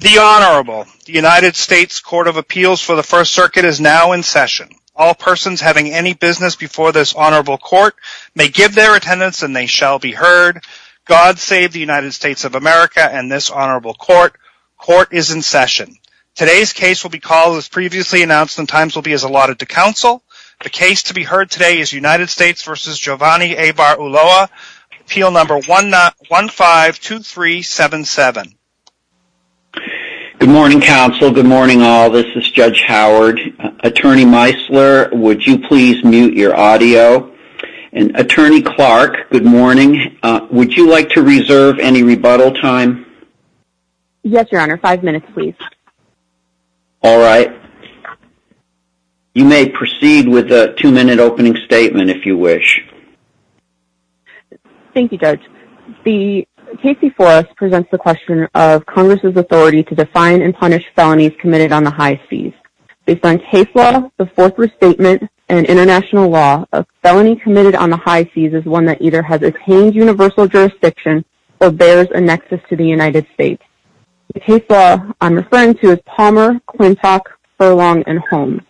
The Honorable, the United States Court of Appeals for the First Circuit is now in session. All persons having any business before this Honorable Court may give their attendance and they shall be heard. God save the United States of America and this Honorable Court. Court is in session. Today's case will be called as previously announced and times will be allotted to counsel. The case to be heard today is United States v. Aybar-Ulloa, appeal number 152377. Good morning counsel. Good morning all. This is Judge Howard. Attorney Meisler, would you please mute your audio? And Attorney Clark, good morning. Would you like to reserve any rebuttal time? Yes, Your Honor. Five minutes, please. All right. You may proceed with a two-minute opening statement if you wish. Thank you, Judge. The case before us presents the question of Congress's authority to define and punish felonies committed on the high fees. Based on case law, the fourth restatement, and international law, a felony committed on the high fees is one that either has attained universal jurisdiction or bears a nexus to the United States. The case law I'm referring to is Palmer, Quintock, Furlong, and Holmes.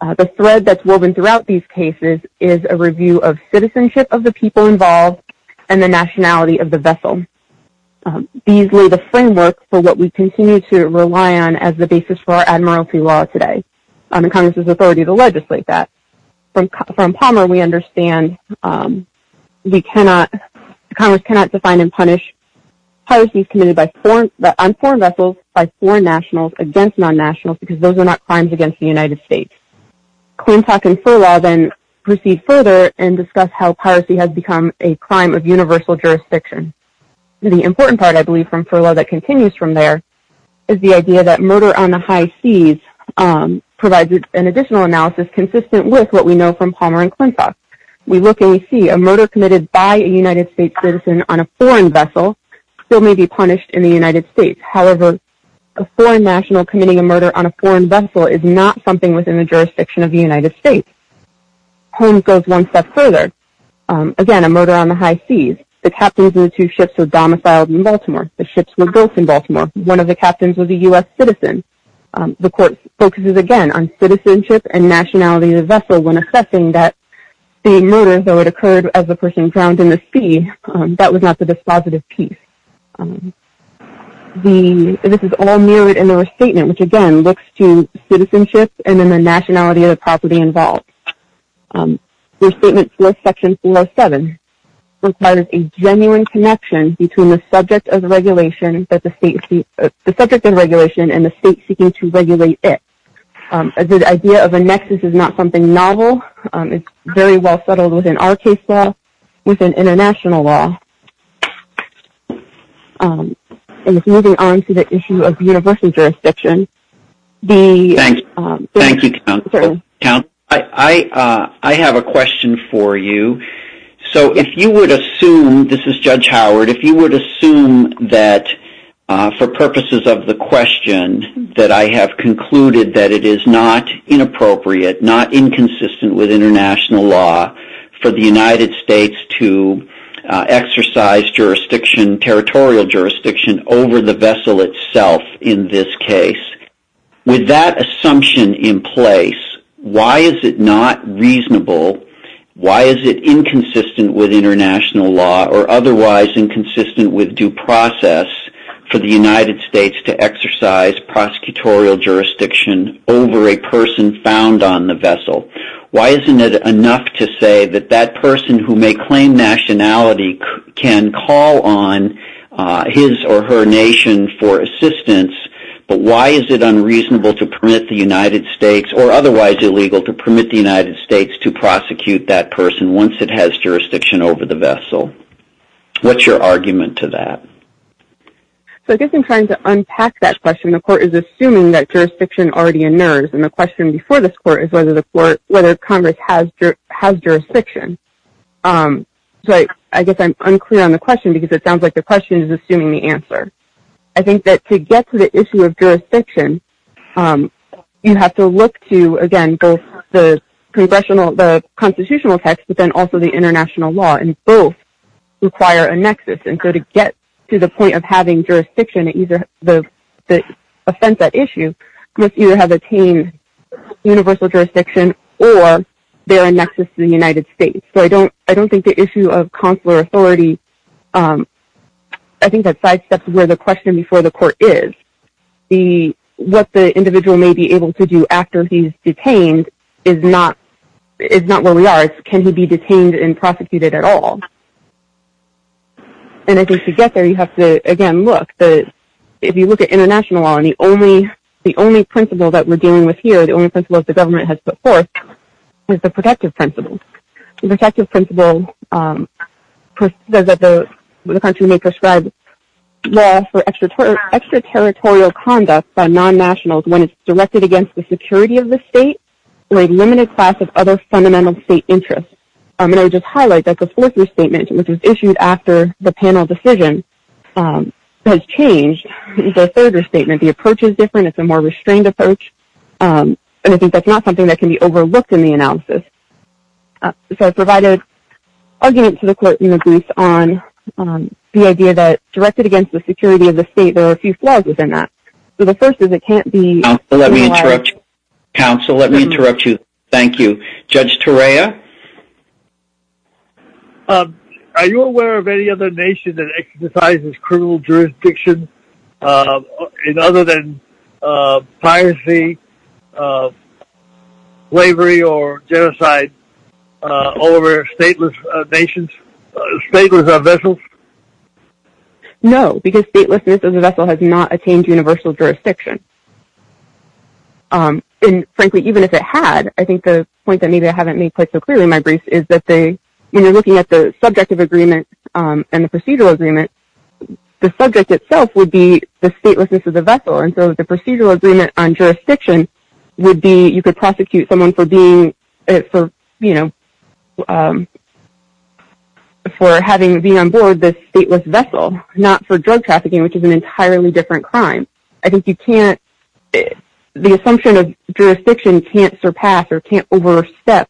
The thread that's woven throughout these cases is a review of citizenship of the people involved and the nationality of the vessel. These lay the framework for what we continue to rely on as the basis for our admiralty law today and Congress's authority to legislate that. From Palmer, we understand Congress cannot define and punish piracy committed on foreign vessels by foreign nationals against non-nationals because those are not crimes against the United States. Quintock and Furlong then proceed further and discuss how piracy has become a crime of universal jurisdiction. The important part, I believe, from Furlong that continues from there is the idea that murder on the high fees provides an additional analysis consistent with what we know from Palmer and Quintock. We look and we see a murder committed by a United States citizen on a foreign vessel still may be punished in the United States. However, a foreign national committing a murder on a foreign vessel is not something within the jurisdiction of the United States. Holmes goes one step further. Again, a murder on the high fees. The captains of the two ships were domiciled in Baltimore. The ships were both in Baltimore. One of the captains was a U.S. citizen. The court focuses again on citizenship and nationality of the vessel when assessing that the murder occurred as a person drowned in the sea. That was not the dispositive piece. This is all mirrored in the restatement which again looks to citizenship and then the nationality of the property involved. The restatement for section 407 requires a genuine connection between the subject of regulation and the state seeking to regulate it. The idea of a nexus is not something novel. It's very well settled within our case law, within international law. Moving on to the issue of universal jurisdiction. Thank you, counsel. I have a question for you. So if you would assume, this is Judge Howard, if you would assume that for purposes of the question that I have concluded that it is not inappropriate, not inconsistent with international law for the United States to exercise jurisdiction, territorial jurisdiction over the vessel itself in this case. With that assumption in place, why is it not reasonable, why is it inconsistent with international law or otherwise inconsistent with due process for the United States to exercise prosecutorial jurisdiction over a person found on the vessel? Why isn't it enough to say that that person who may claim nationality can call on his or her nation for assistance, but why is it unreasonable to permit the United States or otherwise illegal to permit the United States to prosecute that person once it has jurisdiction over the vessel? What's your argument to that? So I guess I'm trying to unpack that question. The court is assuming that jurisdiction already in there and the question before this court is whether the court, whether Congress has jurisdiction. So I guess I'm unclear on the question because it sounds like the question is assuming the answer. I think that to get to the both the constitutional text, but then also the international law and both require a nexus and go to get to the point of having jurisdiction, the offense at issue must either have attained universal jurisdiction or they're a nexus to the United States. So I don't think the issue of consular authority, I think that sidesteps where the question before the court is what the individual may be able to do after he's detained is not where we are. Can he be detained and prosecuted at all? And I think to get there, you have to, again, look. If you look at international law, the only principle that we're dealing with here, the only principle that the government has put forth is the protective principle. The protective principle says that the country may prescribe law for extraterritorial conduct by non-nationals when it's directed against the security of the state or a limited class of other fundamental state interests. I'm going to just highlight that the fourth restatement, which was issued after the panel decision, has changed. The third restatement, the approach is different. It's a more restrained approach. And I think that's not something that can be overlooked in the analysis. So I provided argument to the court in the brief on the idea that directed against the security of the state, there were a few flaws within that. So the first is it can't be- Counsel, let me interrupt you. Thank you. Judge Torreya. Are you aware of any other nation that exercises criminal jurisdiction in other than piracy, slavery, or genocide over stateless nations, stateless vessels? No, because statelessness as a vessel has not attained universal jurisdiction. And frankly, even if it had, I think the point that maybe I haven't made quite so clearly in my brief is that when you're looking at the subjective agreement and the procedural agreement, the subject itself would be the statelessness of the vessel. And so the procedural agreement on jurisdiction would be you could prosecute someone for being- for having been on board this stateless vessel, not for drug trafficking, which is an entirely different crime. I think you can't- the assumption of jurisdiction can't surpass or can't overstep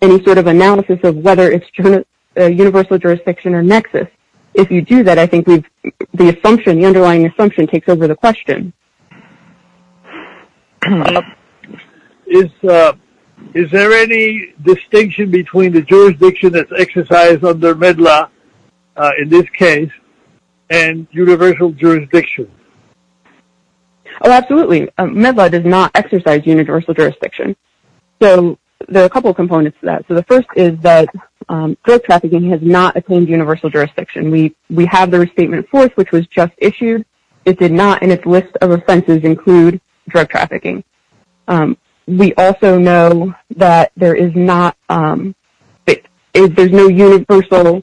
any sort of analysis of whether it's universal jurisdiction or nexus. If you do that, I think the assumption, the underlying assumption takes over the question. Is there any distinction between the jurisdiction that's exercised under MEDLA in this case and universal jurisdiction? Oh, absolutely. MEDLA does not exercise universal jurisdiction. So there are a couple of components to that. So the first is that drug trafficking has not attained universal jurisdiction. We have the restatement of force, which was just issued. It did not, and its list of offenses include drug trafficking. We also know that there is not- there's no universal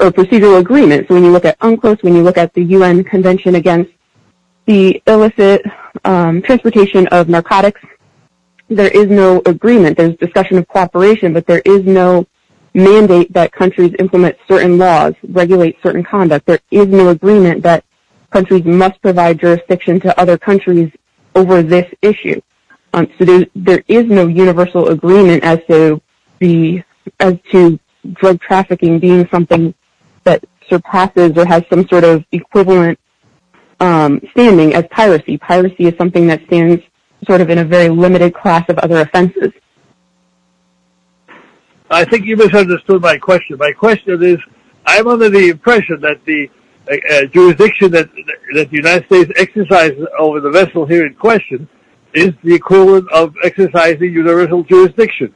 procedural agreement. So when you look at UNCLOS, when you look at the UN Convention Against the Illicit Transportation of Narcotics, there is no agreement. There's discussion of cooperation, but there is no mandate that countries implement certain laws, regulate certain conduct. There is no agreement that countries must provide jurisdiction to other countries over this issue. So there is no universal agreement as to the- as to drug enforcement standing as piracy. Piracy is something that stands sort of in a very limited class of other offenses. I think you misunderstood my question. My question is, I'm under the impression that the jurisdiction that the United States exercises over the vessel here in question is the equivalent of exercising universal jurisdiction.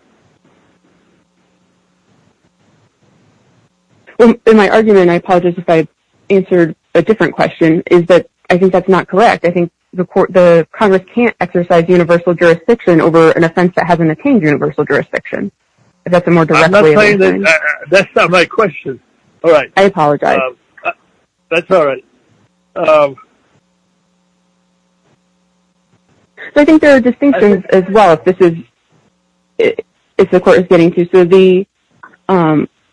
Well, in my argument, I apologize if I answered a different question, is that I think that's not correct. I think the court- the Congress can't exercise universal jurisdiction over an offense that hasn't attained universal jurisdiction. That's a more direct way of saying- That's not my question. All right. I apologize. That's all right. So I think there are distinctions as well if this is- if the court is getting to. So the-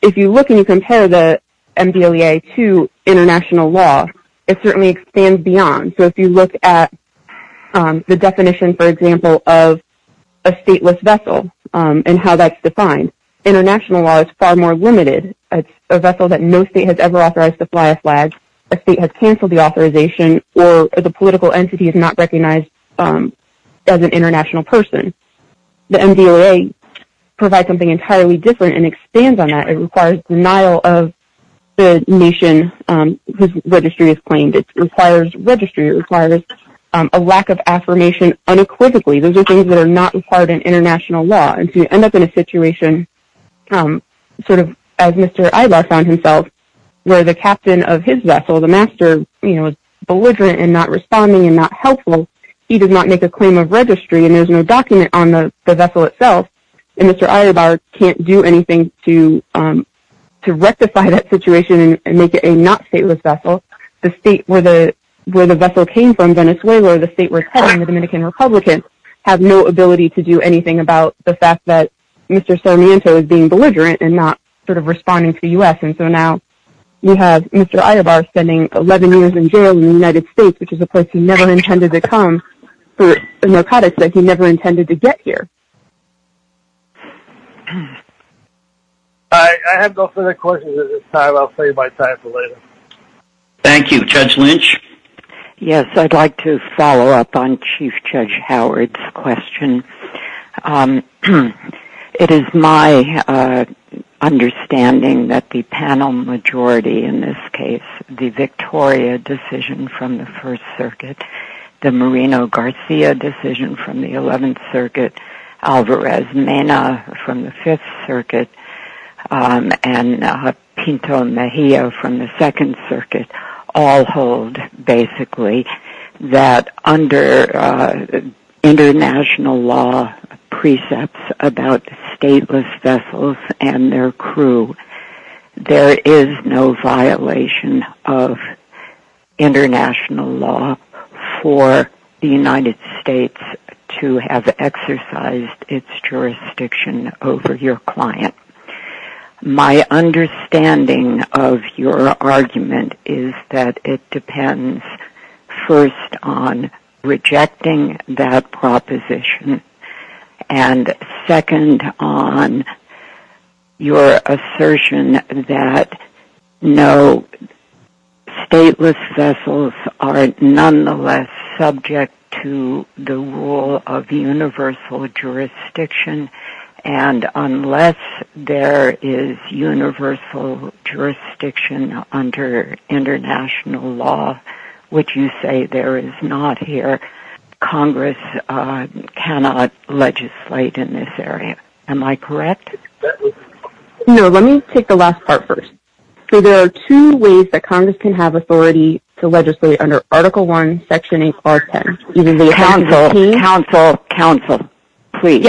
if you look and you compare the MDLEA to international law, it certainly expands beyond. So if you look at the definition, for example, of a stateless vessel and how that's defined, international law is far more limited. It's a vessel that no state has ever authorized to fly a flag, a state has canceled the authorization, or the political entity is not recognized as an international person. The MDLEA provides something entirely different and expands on that. It requires denial of the nation whose registry is claimed. It requires registry. It requires a lack of affirmation unequivocally. Those are things that are not required in international law. And so you end up in a situation, sort of as Mr. Ila found himself, where the captain of his vessel, the master, you know, is belligerent and not responding and not helpful. He did not make a claim of registry and there's no document on the vessel itself. And Mr. Alibar can't do anything to rectify that situation and make it a not stateless vessel. The state where the vessel came from, Venezuela, the state where it's from, the Dominican Republic, have no ability to do anything about the fact that Mr. Sarmiento is being belligerent and not sort of responding to U.S. And so now we have Mr. Alibar spending 11 years in jail in the United States, which is a place he never intended to come, but Mercado says he never intended to get here. I have no further questions at this time. I'll save my time for later. Thank you. Judge Lynch? Yes, I'd like to follow up on Chief Judge Howard's question. It is my understanding that the panel majority in this case, the Victoria decision from the First Circuit, the Moreno-Garcia decision from the Eleventh Circuit, Alvarez-Mena from the Fifth Circuit, basically, that under international law precepts about stateless vessels and their crew, there is no violation of international law for the United States to have exercised its jurisdiction over your client. My understanding of your argument is that it depends first on rejecting that proposition, and second on your assertion that no stateless vessels are nonetheless subject to the rule of universal jurisdiction, and unless there is universal jurisdiction under international law, which you say there is not here, Congress cannot legislate in this area. Am I correct? No, let me take the last part first. There are two ways that Congress can have authority to legislate under Article I, Section 814. Counsel, counsel, counsel, please.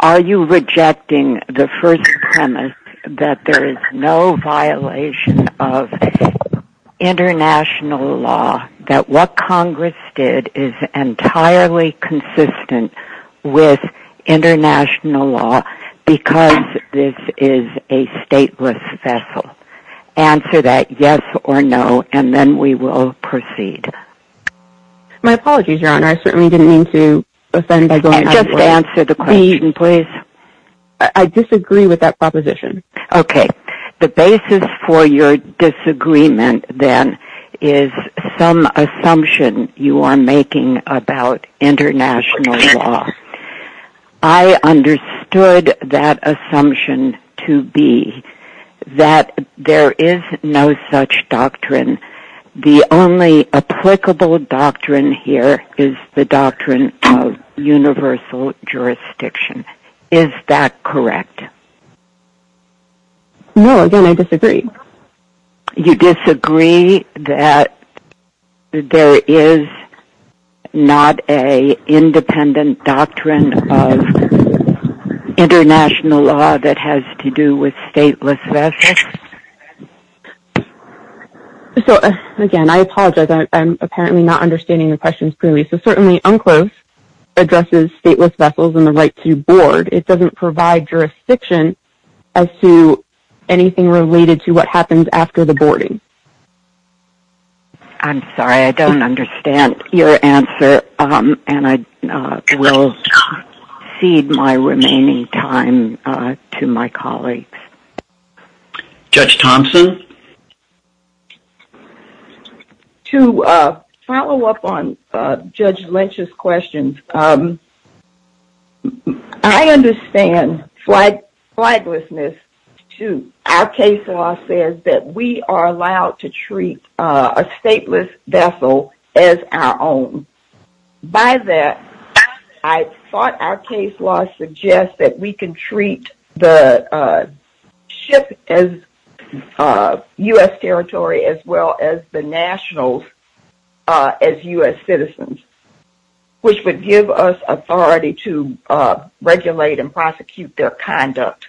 Are you rejecting the first premise that there is no violation of international law, that what Congress did is entirely consistent with international law because this is a stateless vessel? Answer that yes or no, and then we will proceed. My apologies, Your Honor. I certainly didn't mean to offend by going out of line. Just answer the question, please. I disagree with that proposition. Okay. The basis for your disagreement, then, is some assumption you are making about international law. I understood that assumption to be that there is no such doctrine. The only applicable doctrine here is the doctrine of universal jurisdiction. Is that correct? No, again, I disagree. You disagree that there is not an independent doctrine of international law that has to do with stateless vessels? So, again, I apologize. I'm apparently not understanding your questions clearly. So, certainly, UNCLOS addresses stateless vessels and the right to board. It doesn't provide jurisdiction as to anything related to what happens after the boarding. I'm sorry. I don't understand your answer, and I will cede my remaining time to my colleagues. Judge Thompson? To follow up on Judge Lynch's question, I understand flightlessness, too. Our case law says that we are allowed to treat a stateless vessel as our own. By that, I thought our case law suggests that we can treat the ship as U.S. territory as well as the nationals as U.S. citizens, which would give us authority to regulate and prosecute their conduct.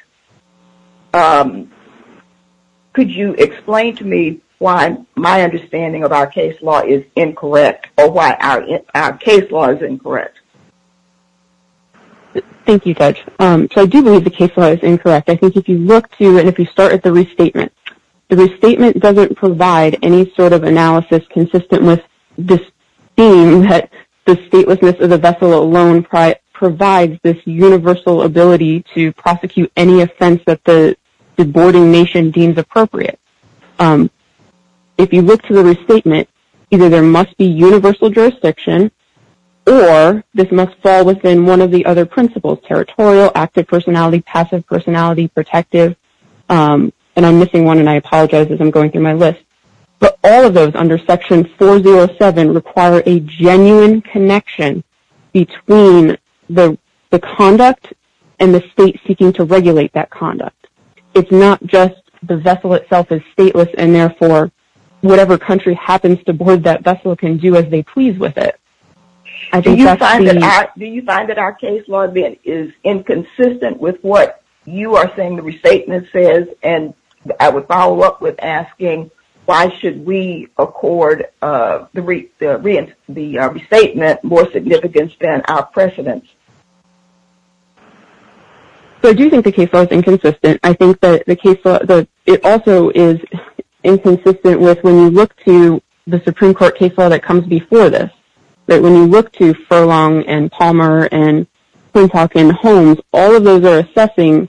Could you explain to me why my understanding of our case law is incorrect or why our case law is incorrect? Thank you, Judge. So, I do believe the case law is incorrect. I think if you look to and if you start at the restatement, the restatement doesn't provide any sort of analysis consistent with this theme that the statelessness of the vessel alone provides this universal ability to prosecute any offense that the boarding nation deems appropriate. If you look to the restatement, either there must be universal jurisdiction or this must fall within one of the other principles, territorial, active personality, passive personality, protective, and I'm missing one and I apologize as I'm going through my list, but all of those under section 407 require a genuine connection between the conduct and the state seeking to regulate that conduct. It's not just the vessel itself is stateless and therefore whatever country happens to board that vessel can do as they please with it. Do you find that our case law is inconsistent with what you are saying the restatement says and I would follow up with asking why should we accord the restatement more significance than our precedence? So I do think the case law is inconsistent. I think that it also is inconsistent with when you look to the Supreme Court case law that comes before this, that when you look to Furlong and Palmer and Homes, all of those are assessing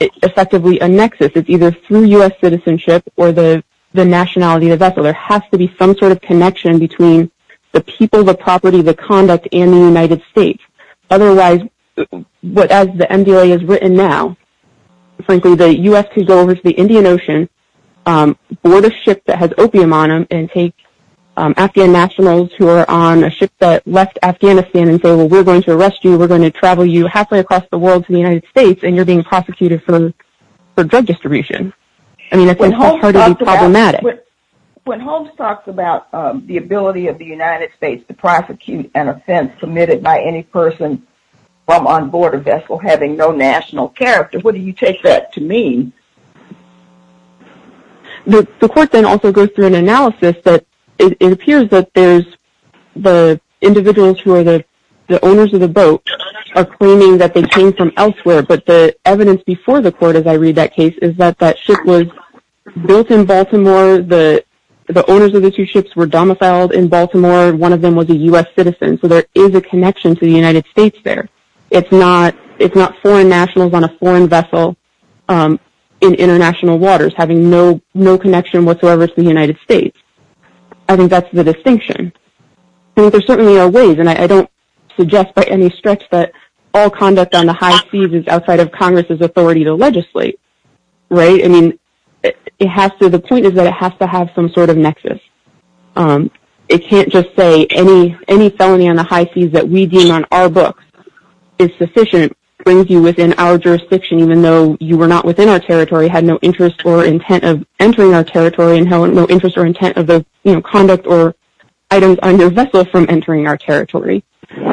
effectively a nexus. It's either through U.S. citizenship or the nationality of the vessel. There has to be some sort of connection between the people, the property, the conduct, and the United States. Otherwise, it's not going to be what as the MDOA is written now, frankly, the U.S. can go over to the Indian Ocean, board a ship that has opium on them, and take Afghan nationals who are on a ship that left Afghanistan and say, well, we're going to arrest you, we're going to travel you halfway across the world to the United States, and you're being prosecuted for drug distribution. I mean, When Homes talks about the ability of the United States to prosecute an offense committed by any person from on board a vessel having no national character, what do you take that to mean? The court then also goes through an analysis that it appears that there's the individuals who are the owners of the boat are claiming that they came from elsewhere. But the evidence before the court, as I read that case, is that that ship was built in Baltimore. The owners of the two ships were domiciled in Baltimore. One of them was a U.S. citizen. So there is a connection to the United States there. It's not foreign nationals on a foreign vessel in international waters, having no connection whatsoever to the United States. I think that's the distinction. There certainly are ways, and I don't suggest by any stretch that all conduct on the high seas is outside of Congress's authority to legislate, right? I mean, the point is that it has to have some sort of nexus. It can't just say any felony on the high seas that we deem on our books is sufficient, brings you within our jurisdiction, even though you were not within our territory, had no interest or intent of entering our territory, and no interest or intent of the conduct or items on your vessel from entering our territory.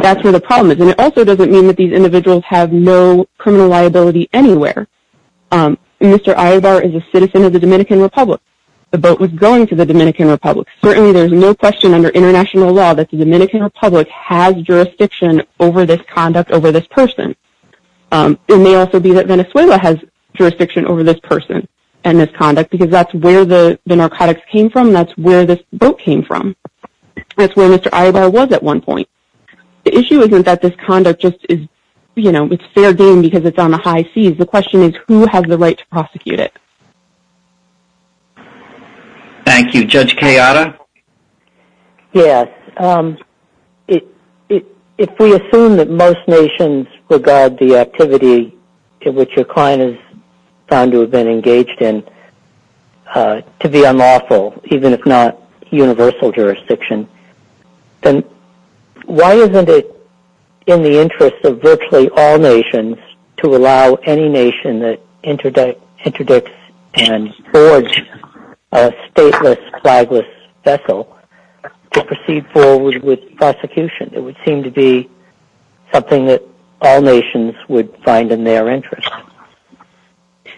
That's where the problem is. And it also doesn't mean that these individuals have no criminal liability anywhere. Mr. Ayobar is a citizen of the Dominican Republic. The boat was going to the Dominican Republic. Certainly there's no question under international law that the Dominican Republic has jurisdiction over this conduct, over this person. It may also be that Venezuela has jurisdiction over this person and this conduct because that's where the narcotics came from. That's where this boat came from. That's where Mr. Ayobar was at one point. The issue isn't that this conduct just is, you know, it's fair game because it's on the high seas. The question is who has the right to prosecute it. Thank you. Judge Kayada? Yes. If we assume that most nations regard the activity in which your client is found to have been engaged in to be unlawful, even if not universal jurisdiction, then why isn't it in the interest of virtually all nations to allow any nation that interdicts and forges a stateless, flagless vessel to proceed forward with prosecution? It would seem to be something that all nations would find in their interest.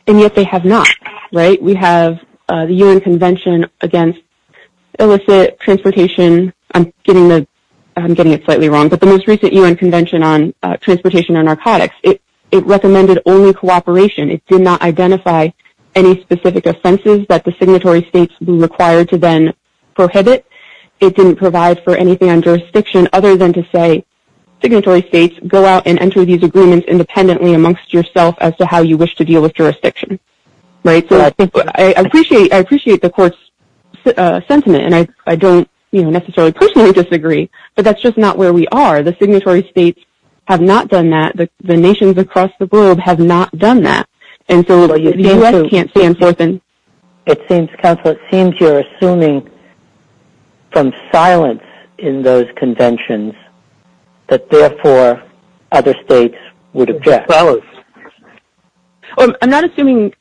And yet they have not, right? We have the UN convention against illicit transportation. I'm getting the, I'm getting it slightly wrong, but the most recent UN convention on transportation and narcotics, it recommended only cooperation. It did not identify any specific offenses that the signatory states be required to then prohibit. It didn't provide for anything on jurisdiction other than to say, signatory states go out and enter these agreements independently amongst yourself as to how you wish to deal with jurisdiction, right? So I appreciate the court's sentiment and I don't necessarily personally disagree, but that's just not where we are. The signatory states have not done that. The nations across the globe have not done that. And so the U.S. can't stand for them. It seems, Counselor, it seems you're assuming from silence in those conventions that therefore other states would object. I'm not assuming.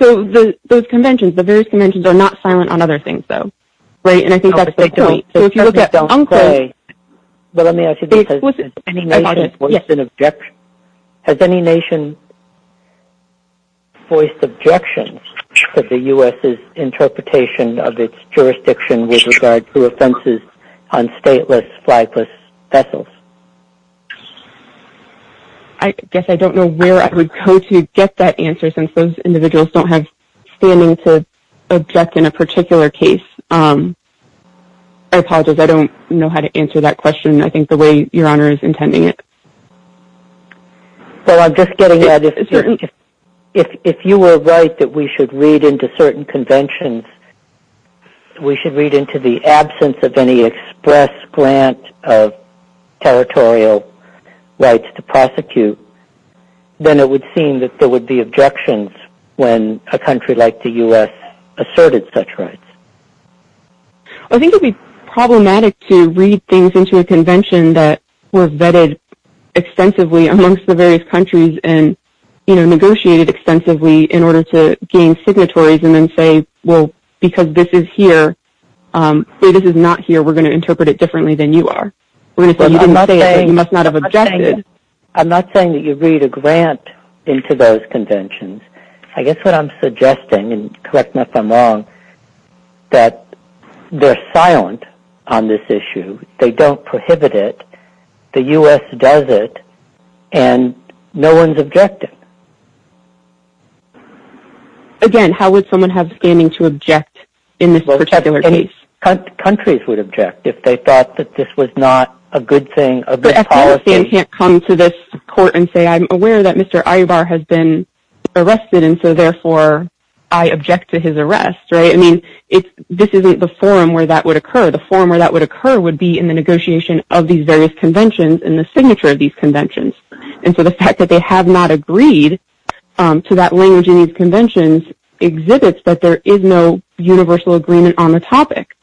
So those conventions, the various conventions are not silent on other things though, right? And I think that's the point. So if you look at UNCRA, well, let me ask you this question. Has any nation voiced an objection? Has any nation voiced objections to the U.S.'s interpretation of its jurisdiction with regard to offenses on stateless flightless vessels? I guess I don't know where I would go to get that answer since those individuals don't have standing to object in a particular case. I apologize. I don't know how to answer that question. I think the way Your Honor is intending it. So I'm just getting at, if you were right that we should read into certain conventions, we should read into the absence of any express grant of territorial rights to prosecute, then it would seem that there would be objections when a country like the U.S. asserted such rights. I think it would be problematic to read things into a convention that were vetted extensively amongst the various countries and negotiated extensively in order to gain signatories and then say, well, because this is here, this is not here, we're going to interpret it differently than you are. You must not have objected. I'm not saying you read a grant into those conventions. I guess what I'm suggesting, and correct me if I'm wrong, that they're silent on this issue. They don't prohibit it. The U.S. does it, and no one's objected. Again, how would someone have standing to object in this particular case? Countries would object if they thought that this was not a good thing, a good policy. But Afghanistan can't come to this court and say, I'm aware that Mr. Ayyubar has been arrested, and so, therefore, I object to his arrest. This isn't the forum where that would occur. The forum where that would occur would be in the negotiation of these various conventions and the signature of these conventions. The fact that they have not agreed to that language in these conventions exhibits that there is no universal agreement on the topic.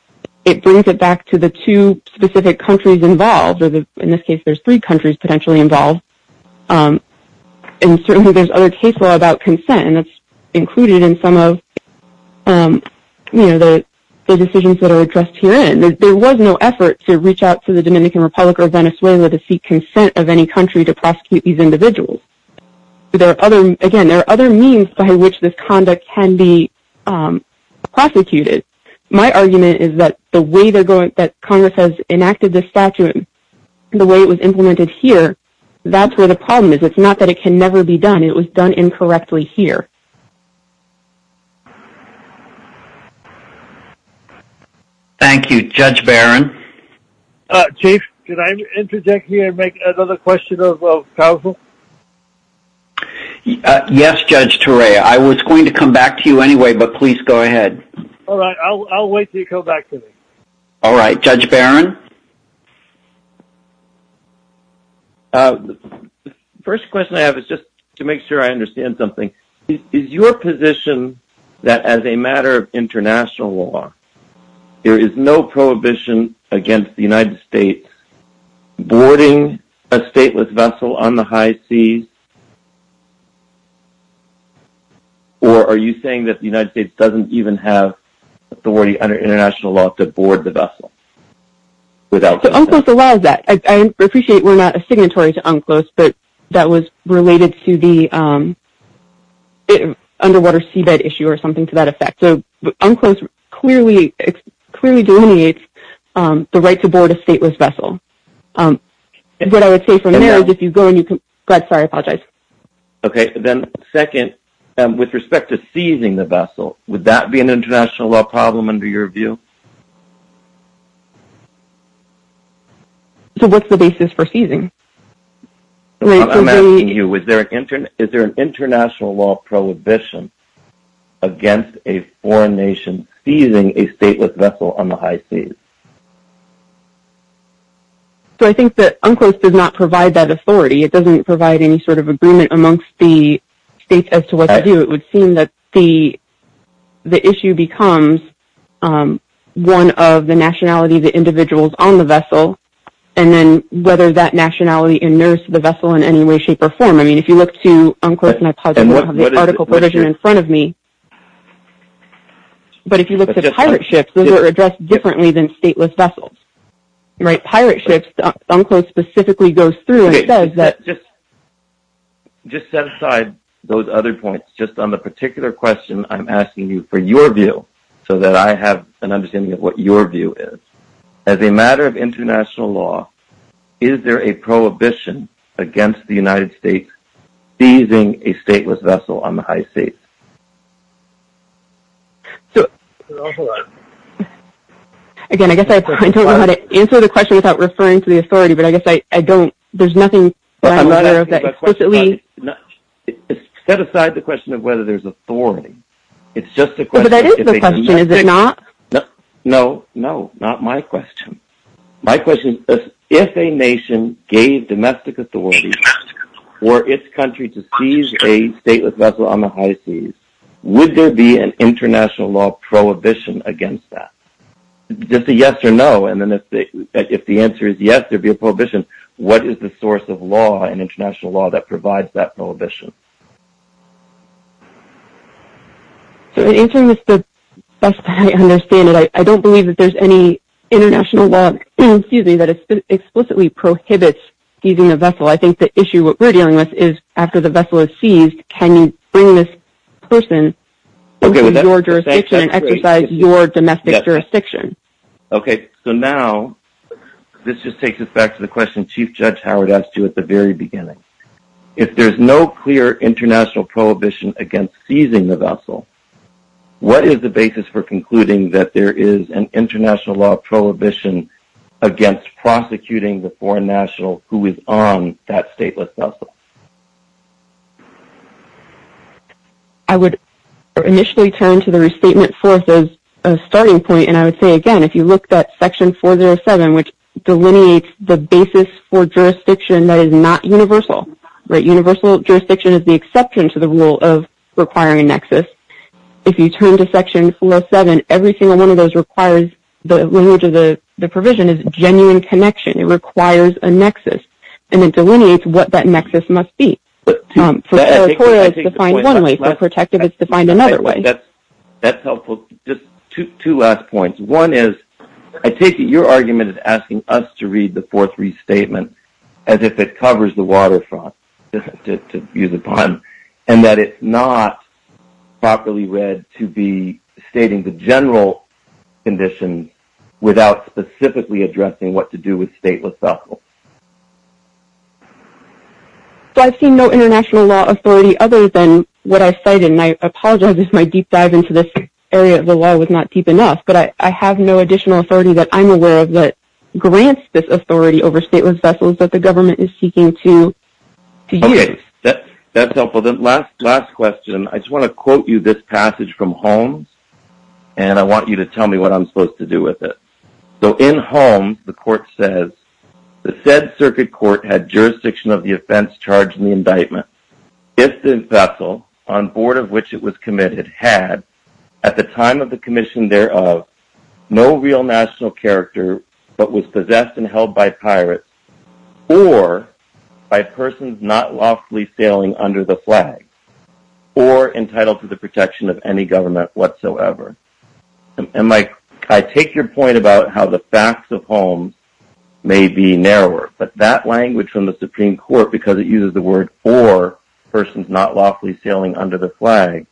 It brings it back to the two specific countries involved. In this case, there's three countries potentially involved. And certainly, there's other case law about consent, and that's included in some of the decisions that are addressed herein. There was no effort to reach out to the Dominican Republic or Venezuela to seek consent of any country to prosecute these individuals. Again, there are other means by which this conduct can be prosecuted. My argument is that the way it was implemented here, that's where the problem is. It's not that it can never be done. It was done incorrectly here. Thank you. Judge Barron? Chief, can I interject here and make another question of counsel? Yes, Judge Ture. I was going to come back to you anyway, but please go ahead. All right. I'll wait until you come back to me. All right. Judge Barron? First question I have is just to make sure I understand something. Is your position that as a matter of international law, there is no prohibition against the United States boarding a stateless vessel on the high seas? Or are you saying that the United States doesn't even have authority under international law to board the vessel? Unclose allows that. I appreciate we're not a signatory to Unclose, but that was related to the underwater seabed issue or something to that effect. Unclose clearly delineates the right to board a stateless vessel. What I would say for now is if you go and you can go ahead. Sorry, I apologize. Okay. Then second, with respect to seizing the vessel, would that be an international law problem under your view? So what's the basis for seizing? I'm asking you, is there an international law prohibition against a foreign nation seizing a stateless vessel on the high seas? So I think that Unclose does not provide that authority. It doesn't provide any sort of agreement amongst the states as to what to do. It would seem that the issue becomes one of the nationality of the individuals on the vessel, and then whether that nationality inures to the vessel in any way, shape, or form. I mean, if you look to Unclose, and I apologize, I don't have the article provision in front of me. But if you look at the pirate ships, they were addressed differently than stateless vessels. Right. Pirate ships, Unclose specifically goes through and says that- Just set aside those other points. Just on the particular question I'm asking you for your view, so that I have an understanding of what your view is. As a matter of international law, is there a prohibition against the United States seizing a stateless vessel on the high seas? Again, I guess I don't know how to answer the question without referring to the authority, but I guess I don't, there's nothing- Set aside the question of whether there's authority. It's just a question- But that is the question, is it not? No, no, not my question. My question is, if a nation gave domestic authority or its country to seize a stateless vessel on the high seas, would there be an international law prohibition against that? Just a yes or no, and then if the answer is yes, there'd be a prohibition. What is the source of law and international law that provides that prohibition? So the answer is the best I understand it. I don't believe that there's any international law, that explicitly prohibits seizing a vessel. I think the issue we're dealing with is after the vessel is seized, can you bring this person into your jurisdiction and exercise your domestic jurisdiction? Okay, so now let's just take this back to the question Chief Judge Howard asked you at the very beginning. If there's no clear international prohibition against seizing the vessel, what is the basis for concluding that there is an international law prohibition against prosecuting the foreign national who is on that stateless vessel? I would initially turn to the restatement force as a starting point, and I would say again, if you look at section 407, which delineates the basis for jurisdiction that is not universal, right? Universal jurisdiction is the exception to the rule of requiring nexus. If you turn to it requires a nexus, and it delineates what that nexus must be. That's helpful. Just two last points. One is, I take it your argument is asking us to read the fourth restatement as if it covers the waterfront, and that it's not properly read to be stating the what to do with stateless vessels. I've seen no international law authority other than what I've cited, and I apologize if my deep dive into this area of the law was not deep enough, but I have no additional authority that I'm aware of that grants this authority over stateless vessels that the government is seeking to use. Okay, that's helpful. The last question, I just want to quote you this passage from Holmes, and I want you to tell me what I'm supposed to do with it. So in Holmes, the court says, the said circuit court had jurisdiction of the offense charged in the indictment. If the vessel on board of which it was committed had at the time of the commission thereof, no real national character, but was possessed and held by pirates, or by persons not lawfully sailing under the flag, or entitled to the protection of any government whatsoever. And I take your point about how the facts of Holmes may be narrower, but that language from the Supreme Court, because it uses the word or persons not lawfully sailing under the flag,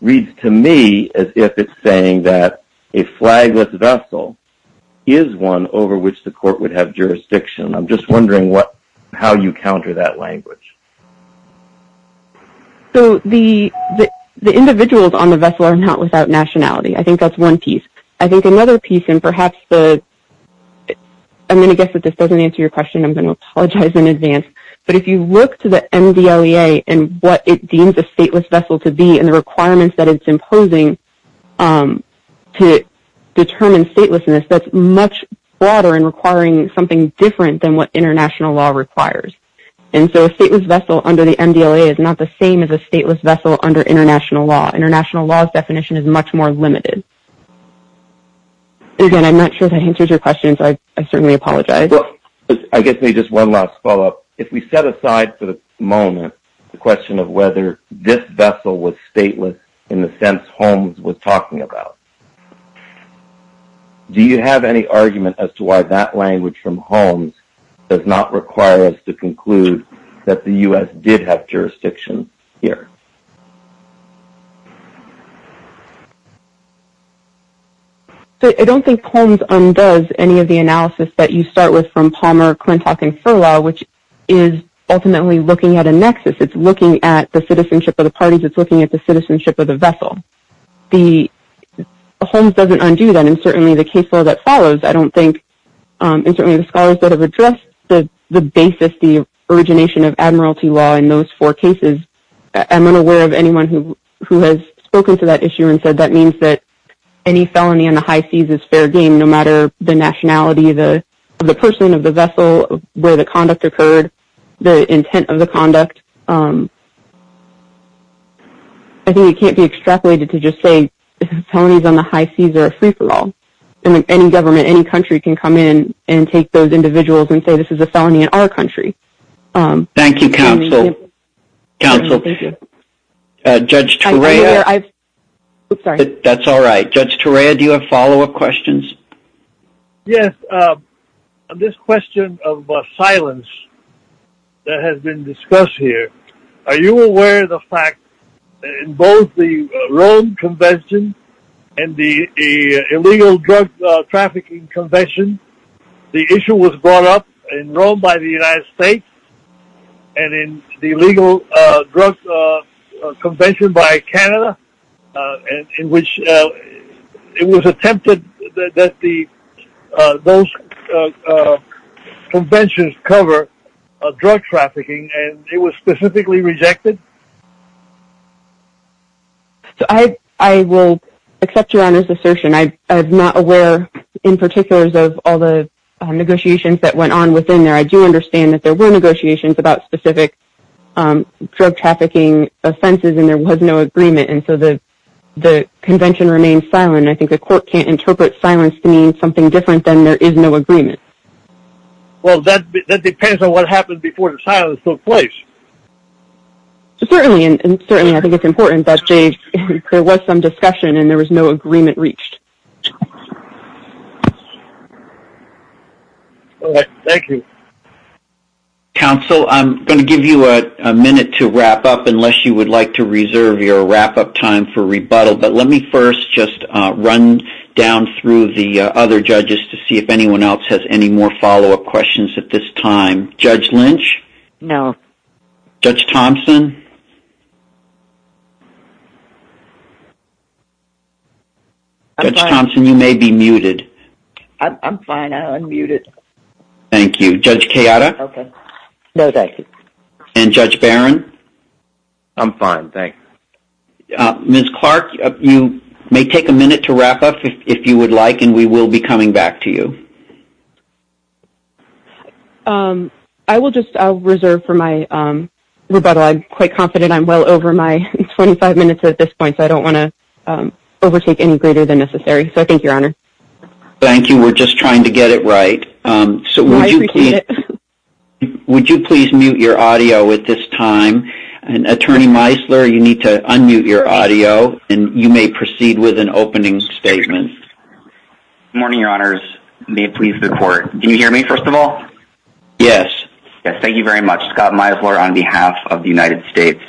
reads to me as if it's saying that a flagless vessel is one over which the court would have jurisdiction. I'm just wondering how you counter that language. So the individuals on the vessel are not without nationality. I think that's one piece. I think another piece, and perhaps the, I'm going to guess that this doesn't answer your question, I'm going to apologize in advance. But if you look to the NDLEA and what it deems a stateless vessel to be, and the requirements that it's imposing to determine statelessness, that's much broader and requiring something different than what international law requires. And so a stateless vessel under the NDLEA is not the same as a stateless vessel under international law. International law's definition is much more limited. Again, I'm not sure if I answered your question, so I certainly apologize. Well, I guess maybe just one last follow-up. If we set aside for a moment the question of whether this vessel was stateless in the sense Holmes was talking about, do you have any argument as to why that language from Holmes does not require us to conclude that the U.S. did have jurisdiction here? So I don't think Holmes undoes any of the analysis that you start with from Palmer, Klintock, and Furlow, which is ultimately looking at a nexus. It's looking at the citizenship of the vessel. Holmes doesn't undo that, and certainly the case law that follows, I don't think, and certainly the scholars that have addressed the basis, the origination of admiralty law in those four cases, I'm unaware of anyone who has spoken to that issue and said that means that any felony on the high seas is fair game, no matter the nationality of the person of the state. Any government, any country can come in and take those individuals and say this is a felony in our country. Thank you, counsel. Judge Torrea, do you have follow-up questions? Yes. This question of silence that has been discussed here, are you aware of the fact that in both the Rome Convention and the Illegal Drug Trafficking Convention, the issue was brought up in Rome by the United States and in the Illegal Drug Convention by Canada, in which it was attempted that those conventions cover drug trafficking, and it was specifically rejected? I will accept your honest assertion. I'm not aware, in particular, of all the negotiations that went on within there. I do understand that there were negotiations about specific drug trafficking offenses, and there was no agreement, and so the convention remained silent, and I think the court can't interpret silence being something different than there is no agreement. Well, that depends on what happened before the place. Certainly, and certainly I think it's important that there was some discussion and there was no agreement reached. All right. Thank you. Counsel, I'm going to give you a minute to wrap up unless you would like to reserve your wrap-up time for rebuttal, but let me first just run down through the other judges to see if anyone else has any more follow-up questions at this time. Judge Lynch? No. Judge Thompson? I'm fine. Judge Thompson, you may be muted. I'm fine. I'm unmuted. Thank you. Judge Chiara? Okay. No, thank you. And Judge Barron? I'm fine, thanks. Ms. Clark, you may take a minute to wrap up if you would like, and we will be coming back to you. I will just reserve for my rebuttal. I'm quite confident I'm well over my 25 minutes at this point, so I don't want to overtake any greater than necessary, so thank you, Your Honor. Thank you. We're just trying to get it right, so would you please mute your audio at this time, and, Attorney Meisler, you need to unmute your audio, and you may proceed with an opening statement. Good morning, Your Honors. You may please record. Do you hear me, first of all? Yes. Yes, thank you very much. Scott Meisler on behalf of the United States.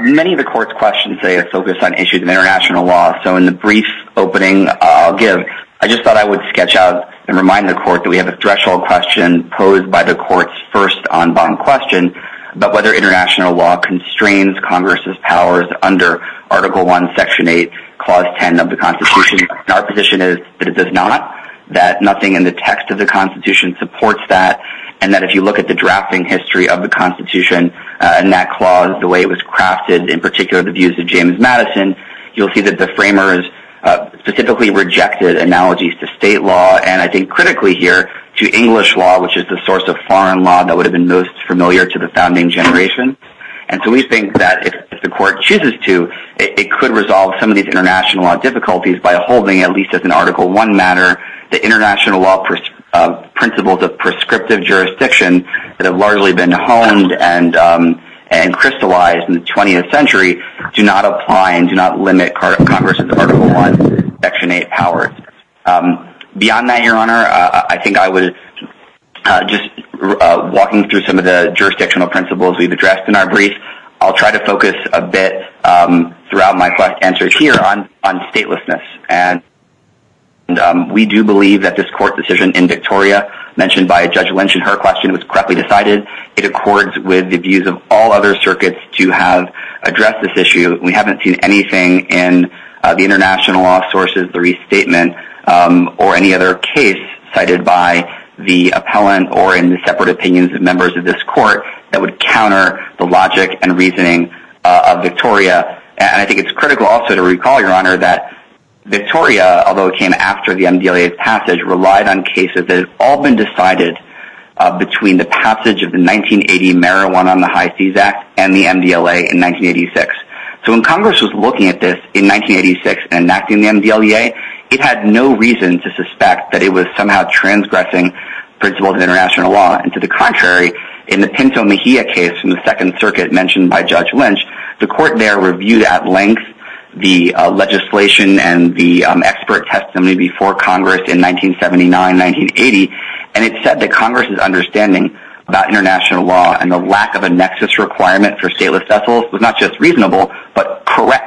Many of the Court's questions today are focused on issues of international law, so in the brief opening I'll give, I just thought I would sketch out and remind the Court that we have a threshold question posed by the Court's first en banc question about whether international law constrains Congress's powers under Article I, Section 8, Clause 10 of the Constitution, and our position is that it does not, that nothing in the text of the Constitution supports that, and that if you look at the drafting history of the Constitution and that clause, the way it was crafted, in particular the views of James Madison, you'll see that the framers specifically rejected analogies to state law and, I think critically here, to English law, which is the source of foreign law that would have been most familiar to the founding generation, and so we think that if the Court chooses to, it could resolve some of these international law difficulties by holding, at least as an Article I matter, that international law principles of prescriptive jurisdiction that have largely been honed and crystallized in the 20th century do not apply and do not limit Congress's Article I, Section 8 powers. Beyond that, Your Honor, I think I would, just walking through some of the jurisdictional principles we've addressed in our brief, I'll try to focus a bit throughout my questions here on statelessness, and we do believe that this Court's decision in Victoria, mentioned by Judge Lynch in her question, was correctly decided. It accords with the views of all other circuits to have addressed this issue. We haven't seen anything in the international law sources, the restatement, or any other case cited by the reasoning of Victoria, and I think it's critical also to recall, Your Honor, that Victoria, although it came after the MDLA's passage, relied on cases that had all been decided between the passage of the 1980 Marijuana on the High Seas Act and the MDLA in 1986. So when Congress was looking at this in 1986 and enacting the MDLA, it had no reason to suspect that it was somehow transgressing principles of international law, and to the contrary, in the Pinto Mejia case in the Second Circuit mentioned by Judge Lynch, the Court there reviewed at length the legislation and the expert testimony before Congress in 1979, 1980, and it said that Congress's understanding about international law and the lack of a nexus requirement for stateless vessels was not just reasonable, but correct.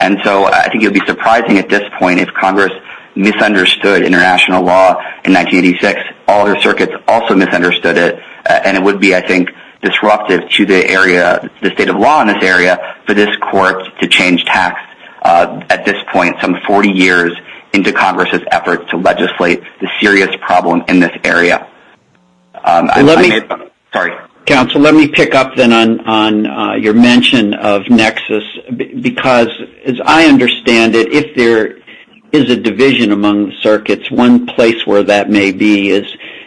And so I think it would be surprising at this point if Congress misunderstood international law in 1986, all the circuits also misunderstood it, and it would be, I think, disruptive to the area, the state of law in this area, for this Court to change tact at this point, some 40 years into Congress's effort to legislate the serious problem in this area. Counsel, let me pick up then on your mention of nexus, because as I understand it, if there is a place where that may be is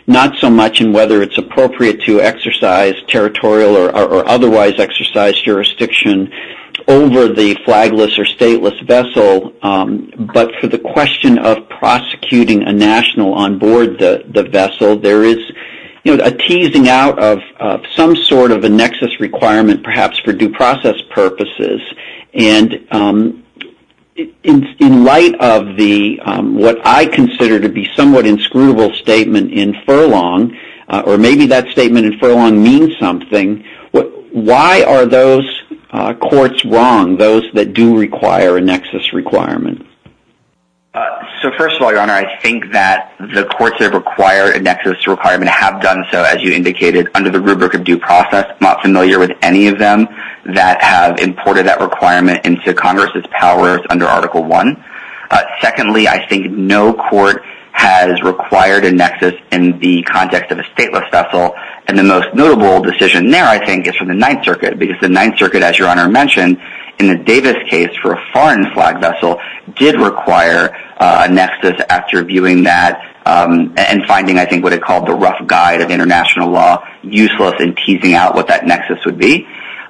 not so much in whether it's appropriate to exercise territorial or otherwise exercise jurisdiction over the flagless or stateless vessel, but for the question of prosecuting a national on board the vessel, there is a teasing out of some sort of a nexus requirement perhaps for due process purposes, and in light of what I consider to be somewhat inscrutable statement in Furlong, or maybe that statement in Furlong means something, why are those courts wrong, those that do require a nexus requirement? So first of all, Your Honor, I think that the courts that require a nexus requirement have done so, as you indicated, under the rubric of due process, not familiar with any of them that have imported that requirement into Congress's powers under Article I. Secondly, I think no court has required a nexus in the context of a stateless vessel, and the most notable decision there, I think, is from the Ninth Circuit, because the Ninth Circuit, as Your Honor mentioned, in the Davis case for a foreign flag vessel, did require a international law, useless in teasing out what that nexus would be,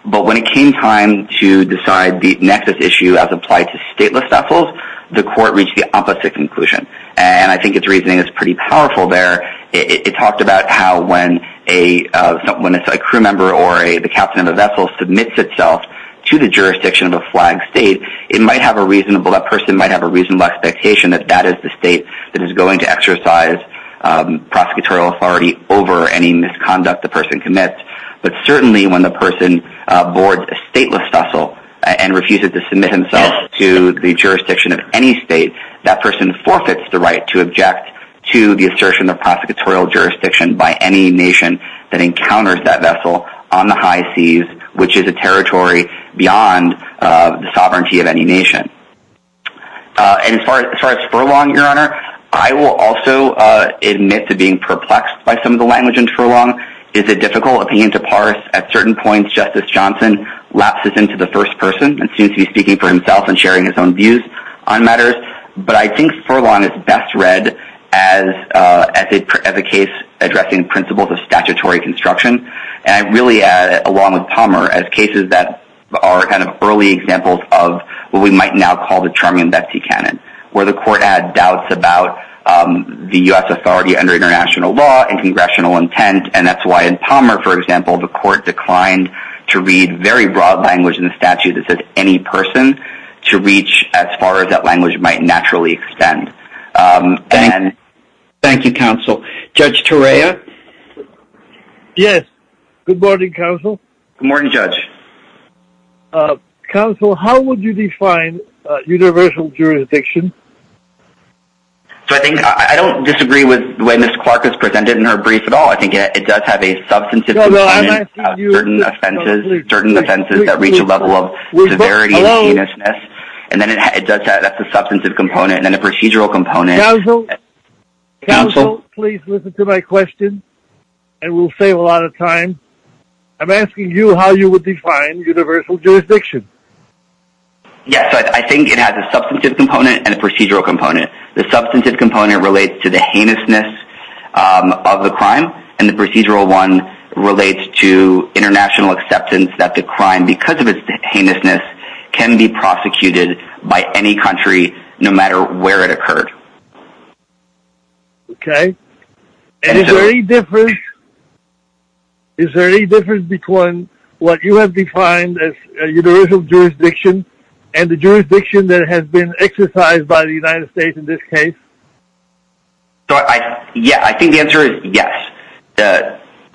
but when it came time to decide the nexus issue as applied to stateless vessels, the court reached the opposite conclusion, and I think its reasoning is pretty powerful there. It talked about how when a crew member or the captain of a vessel submits itself to the jurisdiction of a flagged state, it might have a reasonable, that person might have a reasonable expectation that that is the state that is going to exercise prosecutorial authority over any misconduct the person commits, but certainly when the person boards a stateless vessel and refuses to submit himself to the jurisdiction of any state, that person forfeits the right to object to the assertion of prosecutorial jurisdiction by any nation that encounters that vessel on the high seas, which is a territory beyond the sovereignty of any nation. And as far as Furlong, Your Honor, I will also admit to being perplexed by some of the language in Furlong. It's a difficult opinion to parse. At certain points, Justice Johnson lapses into the first person and seems to be speaking for himself and sharing his own views on matters, but I think Furlong is best read as a case addressing principles of statutory construction, and really along with Palmer as cases that are kind of early examples of what we might now call the Charming and Betsy canon, where the court had doubts about the U.S. authority under international law and congressional intent, and that's why in Palmer, for example, the court declined to read very broad language in the statute that says any person to reach as far as that language might naturally extend. Thank you, Counsel. Judge Torreya? Yes. Good morning, Counsel. Good morning, Judge. Counsel, how would you define universal jurisdiction? So I think I don't disagree with the way Ms. Clark has presented in her brief at all. I think it does have a substantive component of certain offenses that reach a level of severity and heinousness, and then it does have a substantive component and a procedural component. Counsel, please listen to my question, and we'll save a lot of time. I'm asking you how you would define universal jurisdiction. Yes, I think it has a substantive component and a procedural component. The substantive component relates to the heinousness of the crime, and the procedural one relates to international acceptance that the crime, because of its heinousness, can be prosecuted by any country, no matter where it occurred. Okay. Is there any difference between what you have defined as universal jurisdiction and the jurisdiction that has been exercised by the United States in this case? Yeah, I think the answer is yes.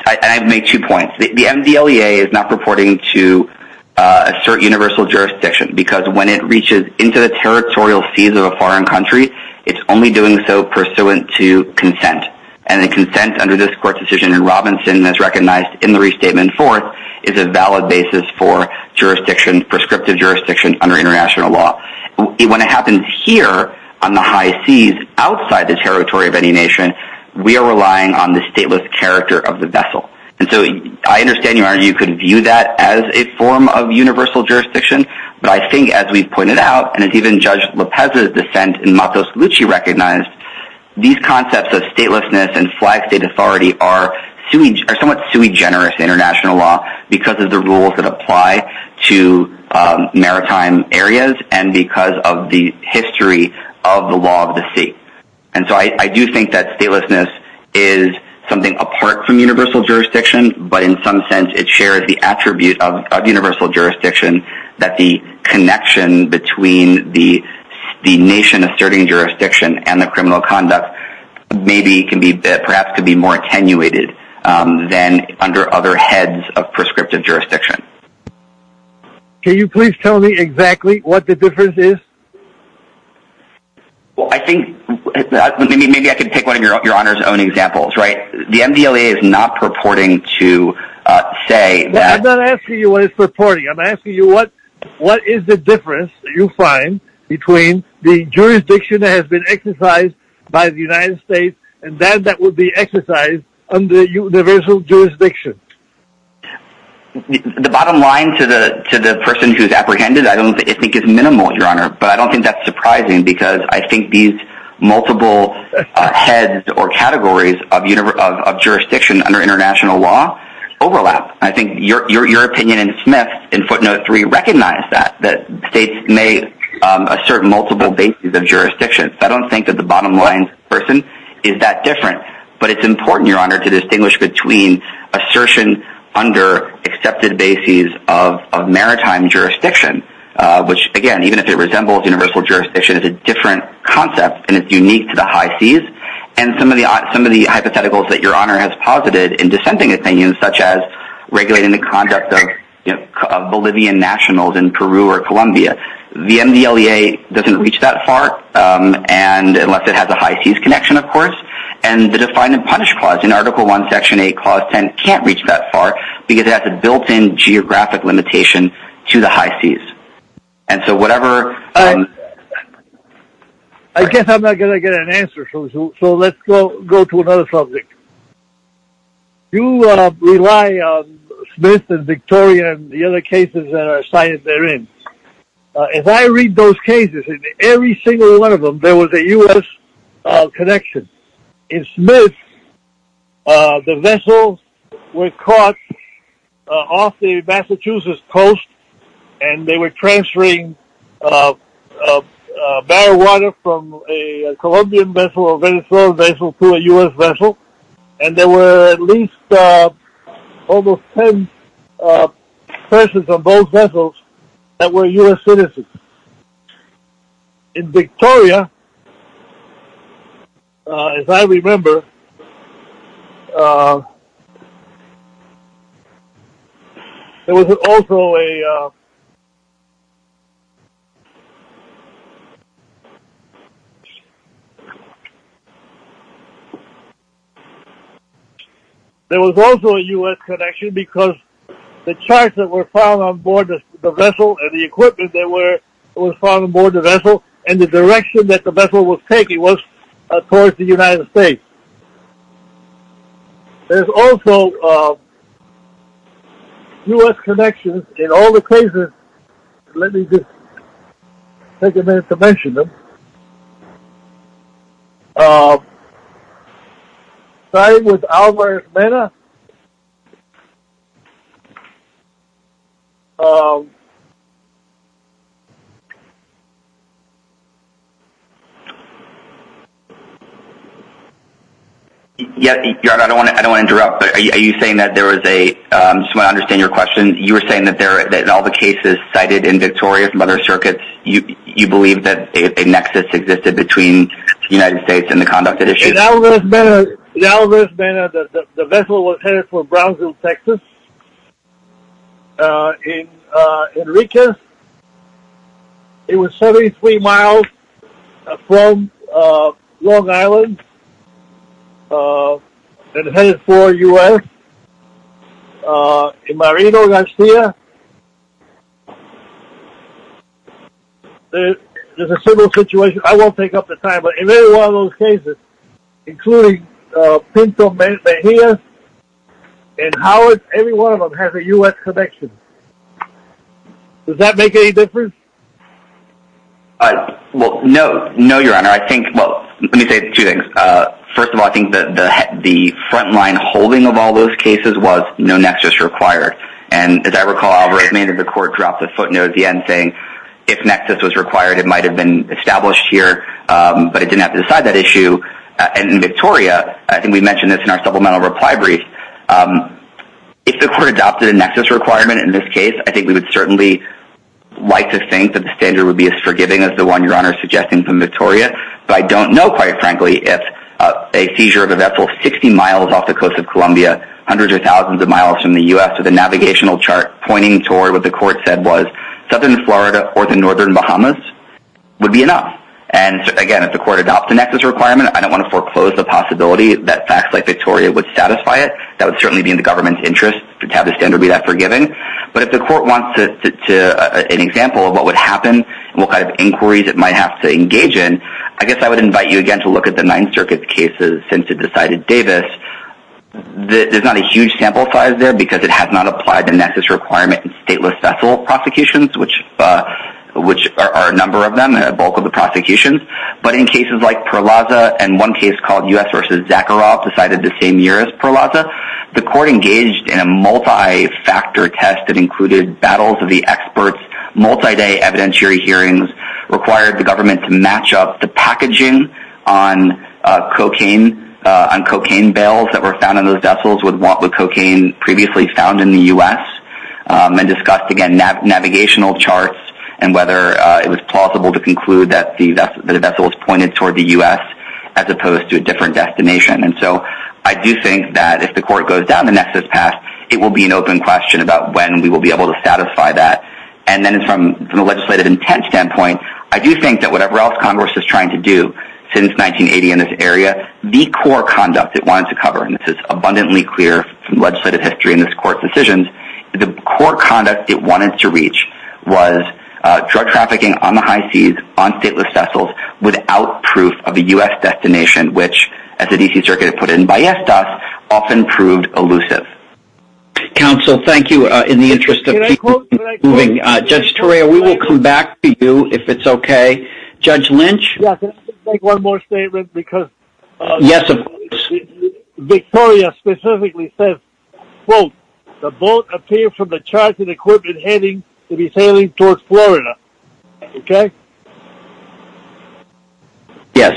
I make two points. The MDLEA is not purporting to assert universal jurisdiction, because when it reaches into the territorial seas of a foreign country, it's only doing so pursuant to consent, and the consent under this court decision in Robinson, as recognized in the Restatement Fourth, is a valid basis for jurisdictions, prescriptive jurisdictions, under international law. When it happens here, on the high seas, outside the territory of any nation, we are relying on the stateless character of the vessel. And so I understand you could view that as a form of universal jurisdiction, but I think, as we've pointed out, and as even Judge Lopez's defense and Marcos Lucci recognized, these concepts of statelessness and flag state authority are somewhat sui generis in international law, because of the rules that apply to maritime areas, and because of the history of the law of the sea. And so I do think that statelessness is something apart from universal jurisdiction, but in some sense, it shares the attribute of universal jurisdiction, that the connection between the nation asserting jurisdiction and the criminal conduct, maybe can be perhaps could be more attenuated than under other heads of state. Well, I think maybe I could pick one of your your honor's own examples, right? The MDLA is not purporting to say that... I'm not asking you what it's purporting. I'm asking you what is the difference that you find between the jurisdiction that has been exercised by the United States, and then that would be exercised under universal jurisdiction? Yeah, the bottom line to the to the person who's apprehended, I don't think is minimal, Your Honor. But I don't think that's surprising, because I think these multiple heads or categories of jurisdiction under international law overlap. I think your opinion in Smith, in footnote three, recognize that states may assert multiple bases of jurisdiction. I don't think that the bottom line person is that different. But it's important, Your Honor, to distinguish between assertion under accepted bases of maritime jurisdiction, which, again, even if it resembles universal jurisdiction, is a different concept. And it's unique to the high seas. And some of the some of the hypotheticals that Your Honor has posited in dissenting opinions, such as regulating the contract of Bolivian nationals in Peru or Colombia, the MDLA doesn't reach that far. And unless it has a high seas connection, of course, and the Define and Punish Clause in Article 1, Section 8, Clause 10 can't reach that far, because it has a built in geographic limitation to the high seas. And so whatever... I guess I'm not gonna get an answer. So let's go go to another subject. You rely on Smith and Victoria and the other cases that are cited therein. If I read those cases, in every single one of them, there was a U.S. connection. In Smith, the vessel was caught off the Massachusetts coast, and they were transferring marijuana from a Colombian vessel or Venezuelan vessel to a U.S. vessel. And there were at least almost 10 persons on both vessels that were U.S. citizens. In Victoria, as I remember, there was also a... There was also a U.S. connection because the charts that were found on board the vessel, and the equipment that was found on board the vessel, and the direction that the vessel was taking was towards the United States. There's also U.S. connections in all the cases. Let me just take a minute to mention them. Starting with Alvarez-Mena, I don't want to interrupt, but are you saying that there was a... I just want to understand your question. You were saying that in all the cases cited in Victoria from other circuits, you believe that a nexus existed between the United States and the conduct it issued? In Alvarez-Mena, the vessel was headed for Brownsville, Texas. In Rica, it was 73 miles from Long Island and headed for U.S. In Marino, Garcia, there's a similar situation. I won't take up the time, but in every one of those cases, including Pinto, Mejia, and Howard, every one of them has a U.S. connection. Does that make any difference? Well, no, your honor. I think... Well, let me say two things. First of all, I think that the frontline holding of all those cases was no nexus required. And as I recall, Alvarez-Mena, the court dropped a footnote at the end saying, if nexus was required, it might have been in Victoria. I think we mentioned this in our supplemental reply brief. If the court adopted a nexus requirement in this case, I think we would certainly like to think that the standard would be as forgiving as the one your honor is suggesting from Victoria. But I don't know, quite frankly, if a seizure of a vessel 60 miles off the coast of Columbia, hundreds of thousands of miles from the U.S. with a navigational chart pointing toward what the court said was southern Florida or the northern Bahamas would be enough. And again, if the court adopts a nexus requirement, I don't want to foreclose the possibility that facts like Victoria would satisfy it. That would certainly be in the government's interest to have the standard be that forgiving. But if the court wants an example of what would happen, what kind of inquiries it might have to engage in, I guess I would invite you again to look at the Ninth Circuit cases since it decided Davis. There's not a huge sample size there because it has not applied the nexus requirement in stateless vessel prosecutions, which are a bulk of the prosecution. But in cases like Perlaza and one case called U.S. versus Zakharov decided the same year as Perlaza, the court engaged in a multi-factor test that included battles of the experts, multi-day evidentiary hearings, required the government to match up the packaging on cocaine, on cocaine bales that were found in those vessels with cocaine previously found in the U.S. and discussed again navigational charts and whether it was plausible to conclude that the vessel was pointed toward the U.S. as opposed to a different destination. And so I do think that if the court goes down the nexus path, it will be an open question about when we will be able to satisfy that. And then from a legislative intent standpoint, I do think that whatever else Congress is trying to do since 1980 in this area, the core conduct it wanted to cover, and this is abundantly clear from legislative history in this court's decisions, the core trafficking on the high seas, on stateless vessels, without proof of a U.S. destination, which as the D.C. Circuit put it in Ballestas, often proved elusive. Counsel, thank you in the interest of people moving. Judge Toria, we will come back to you if it's okay. Judge Lynch? Yeah, can I just make one more statement? Because... Yes, of course. Victoria specifically says, quote, the boat appeared from the charging equipment heading to be sailing toward Florida. Okay? Yes.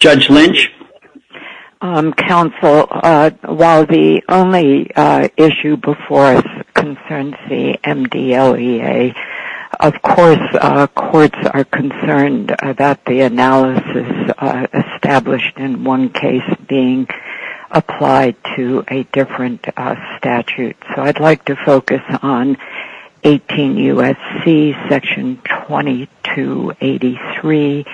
Judge Lynch? Counsel, while the only issue before us concerns the MDLEA, of course, courts are concerned about the analysis established in one case being applied to a different statute. So I'd like to mention 18 U.S.C. section 2283,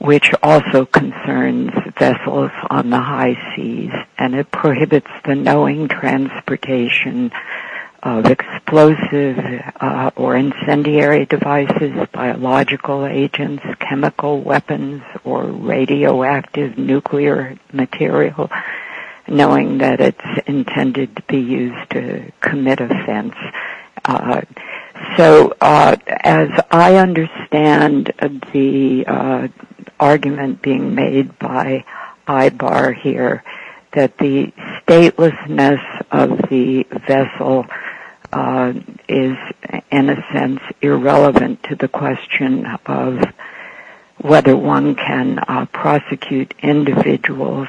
which also concerns vessels on the high seas, and it prohibits the knowing transportation of explosive or incendiary devices, biological agents, chemical weapons, or radioactive nuclear material, knowing that it's intended to be used to commit offense. So as I understand the argument being made by Ibar here, that the statelessness of the vessel is in a sense irrelevant to the question of whether one can prosecute individuals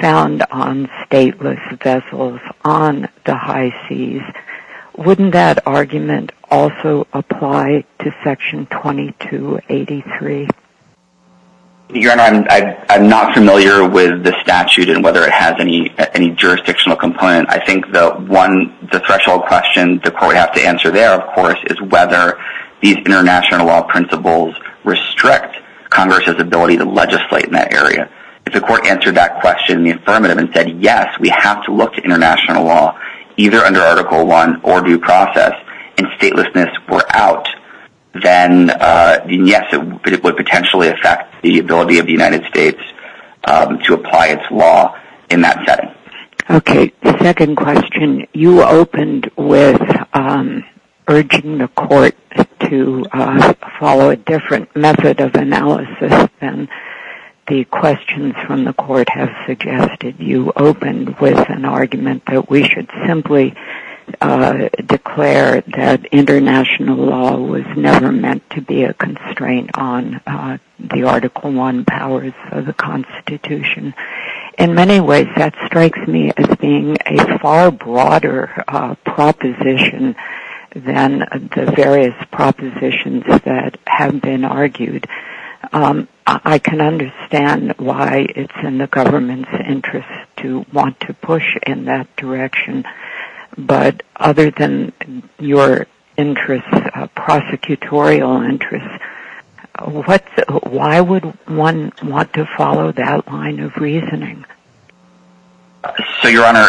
found on stateless vessels on the high seas, wouldn't that argument also apply to section 2283? Your Honor, I'm not familiar with the statute and whether it has any jurisdictional component. I think the one, the threshold question the court would have to answer there, of course, is whether these international law principles restrict Congress's ability to legislate in that area. If the court answered that question in the affirmative and said, yes, we have to look to international law, either under Article I or due process, and statelessness were out, then yes, it would potentially affect the ability of the United States to apply its law in that setting. Okay, the second question, you opened with urging the court to follow a different method of analysis than the questions from the court have suggested. You opened with an argument that we should simply declare that international law was never meant to be a constraint on the Article powers of the Constitution. In many ways, that strikes me as being a far broader proposition than the various propositions that have been argued. I can understand why it's in the government's interest to want to push in that direction. But other than your interests, prosecutorial interests, why would one want to follow that line of reasoning? So, Your Honor,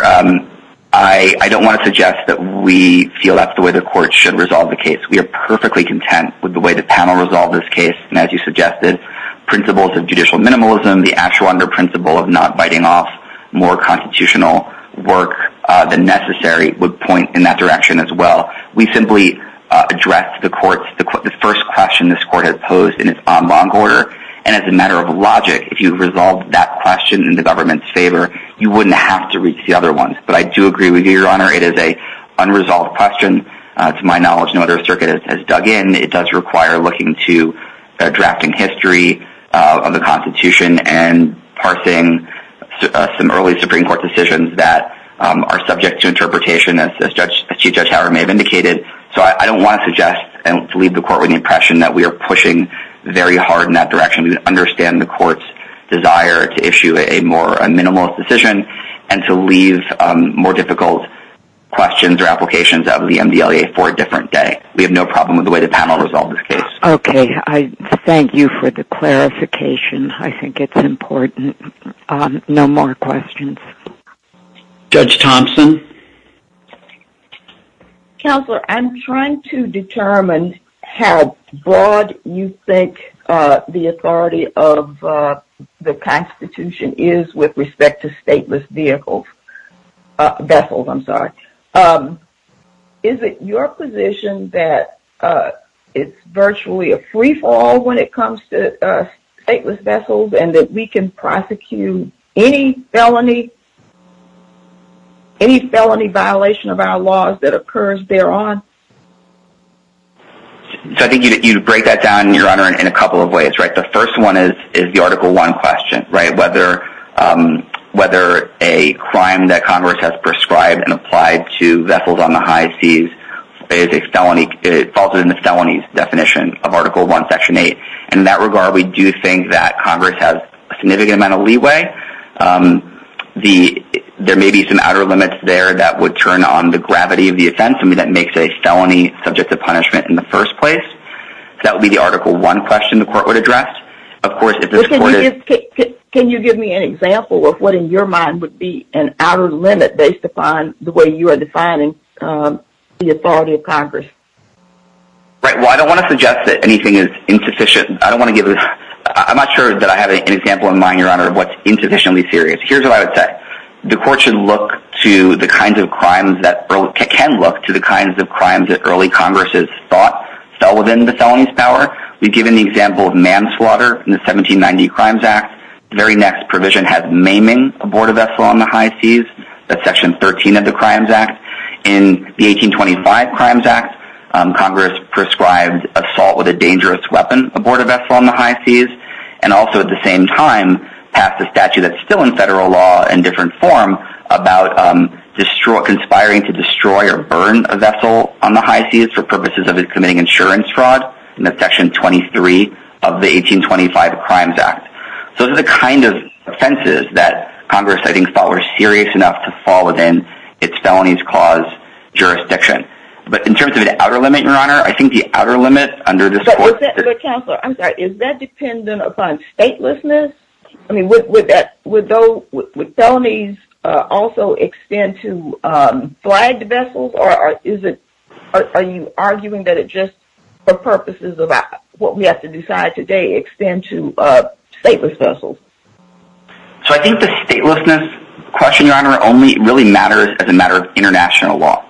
I don't want to suggest that we feel that's the way the court should resolve the case. We are perfectly content with the way the panel resolved this case. And as you suggested, principles of judicial minimalism, the actual under principle of not biting off more constitutional work than necessary would point in that direction as well. We simply address the first question this court has posed in its own long order. And as a matter of logic, if you resolve that question in the government's favor, you wouldn't have to reach the other ones. But I do agree with you, Your Honor, it is a unresolved question. To my knowledge, no other circuit has dug in. It does require looking to drafting history of the Constitution and parsing some early Supreme Court decisions that are subject to interpretation as Chief Judge may have indicated. So I don't want to suggest and leave the court with the impression that we are pushing very hard in that direction to understand the court's desire to issue a more minimal decision and to leave more difficult questions or applications out of the MDLEA for a different day. We have no problem with the way the panel resolved this case. Okay. I thank you for the clarification. I think it's important. No more questions. Okay. Judge Thompson? Counselor, I'm trying to determine how broad you think the authority of the Constitution is with respect to stateless vehicles. Vessels, I'm sorry. Is it your position that it's virtually a free fall when it comes to stateless vessels and that we can prosecute any felony violation of our laws that occurs thereon? So I think you'd break that down, Your Honor, in a couple of ways, right? The first one is the Article I question, right? Whether a crime that Congress has prescribed and applied to vessels on the high seas is a felony falls within the felony's definition of Article I, Section 8. In that regard, we do think that Congress has a significant amount of leeway. There may be some outer limits there that would turn on the gravity of the offense and that makes a felony subject to punishment in the first place. That would be the Article I question the court would address. Can you give me an example of what in your mind would be an outer limit based upon the way you define the authority of Congress? Right. Well, I don't want to suggest that anything is insufficient. I don't want to get rid of... I'm not sure that I have an example in mind, Your Honor, of what's insufficiently serious. Here's what I would say. The court should look to the kinds of crimes that early... It can look to the kinds of crimes that early Congress's thought fell within the felony's power. We've given the example of manslaughter in the 1790 Crimes Act. The very next provision had maiming aboard a vessel on the high seas. That's Section 13 of the Crimes Act. In the 1825 Crimes Act, Congress prescribed assault with a dangerous weapon aboard a vessel on the high seas and also at the same time passed a statute that's still in federal law in different form about conspiring to destroy or burn a vessel on the high seas for purposes of committing insurance fraud in the Section 23 of the 1825 Crimes Act. Those are kind of offenses that Congress, I think, thought were serious enough to fall within its felonies clause jurisdiction. But in terms of the outer limit, Your Honor, I think the outer limit under this court... But, Counselor, I'm sorry. Is that dependent upon statelessness? I mean, would felonies also extend to flagged vessels or are you arguing that it just for So I think the statelessness question, Your Honor, only really matters as a matter of international law.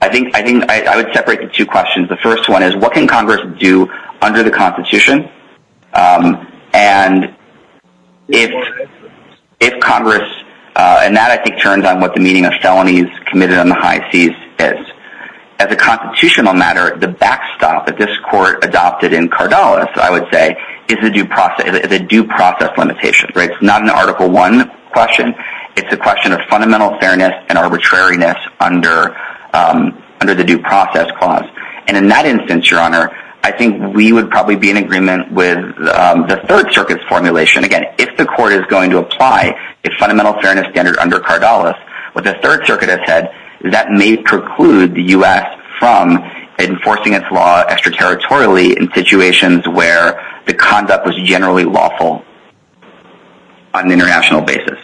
I think I would separate the two questions. The first one is what can Congress do under the Constitution? And if Congress... And that, I think, turns on what the meaning of felonies committed on the high seas is. As a constitutional matter, the backstop that this court adopted in is a due process limitation. It's not an Article I question. It's a question of fundamental fairness and arbitrariness under the due process clause. And in that instance, Your Honor, I think we would probably be in agreement with the Third Circuit's formulation. Again, if the court is going to apply the fundamental fairness standard under Cardallis, what the Third Circuit has said is that may preclude the U.S. from enforcing its law extraterritorially in a way that the conduct was generally lawful on an international basis.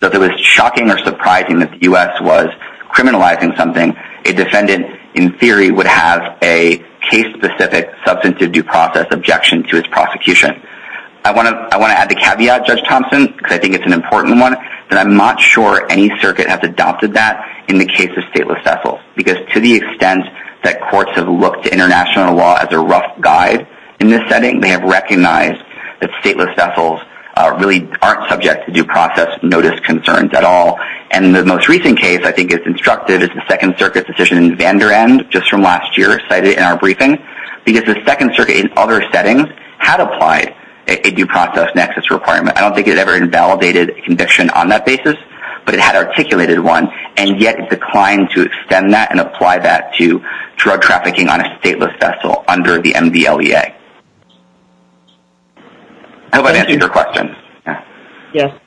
So if it was shocking or surprising that the U.S. was criminalizing something, a defendant, in theory, would have a case-specific substantive due process objection to its prosecution. I want to add the caveat, Judge Thompson, because I think it's an important one, that I'm not sure any circuit has adopted that in the case of stateless vessels, because to the extent that courts have looked to international law as a rough guide, in this setting, they have recognized that stateless vessels really aren't subject to due process notice concerns at all. And in the most recent case, I think it's instructive, is the Second Circuit's decision in Vander End, just from last year, cited in our briefing, because the Second Circuit, in other settings, had applied a due process nexus requirement. I don't think it had ever invalidated a conviction on that basis, but it had articulated one, and yet it declined to extend that and apply that to drug trafficking on a stateless vessel under the MDLEA. I hope I answered your question. Yes.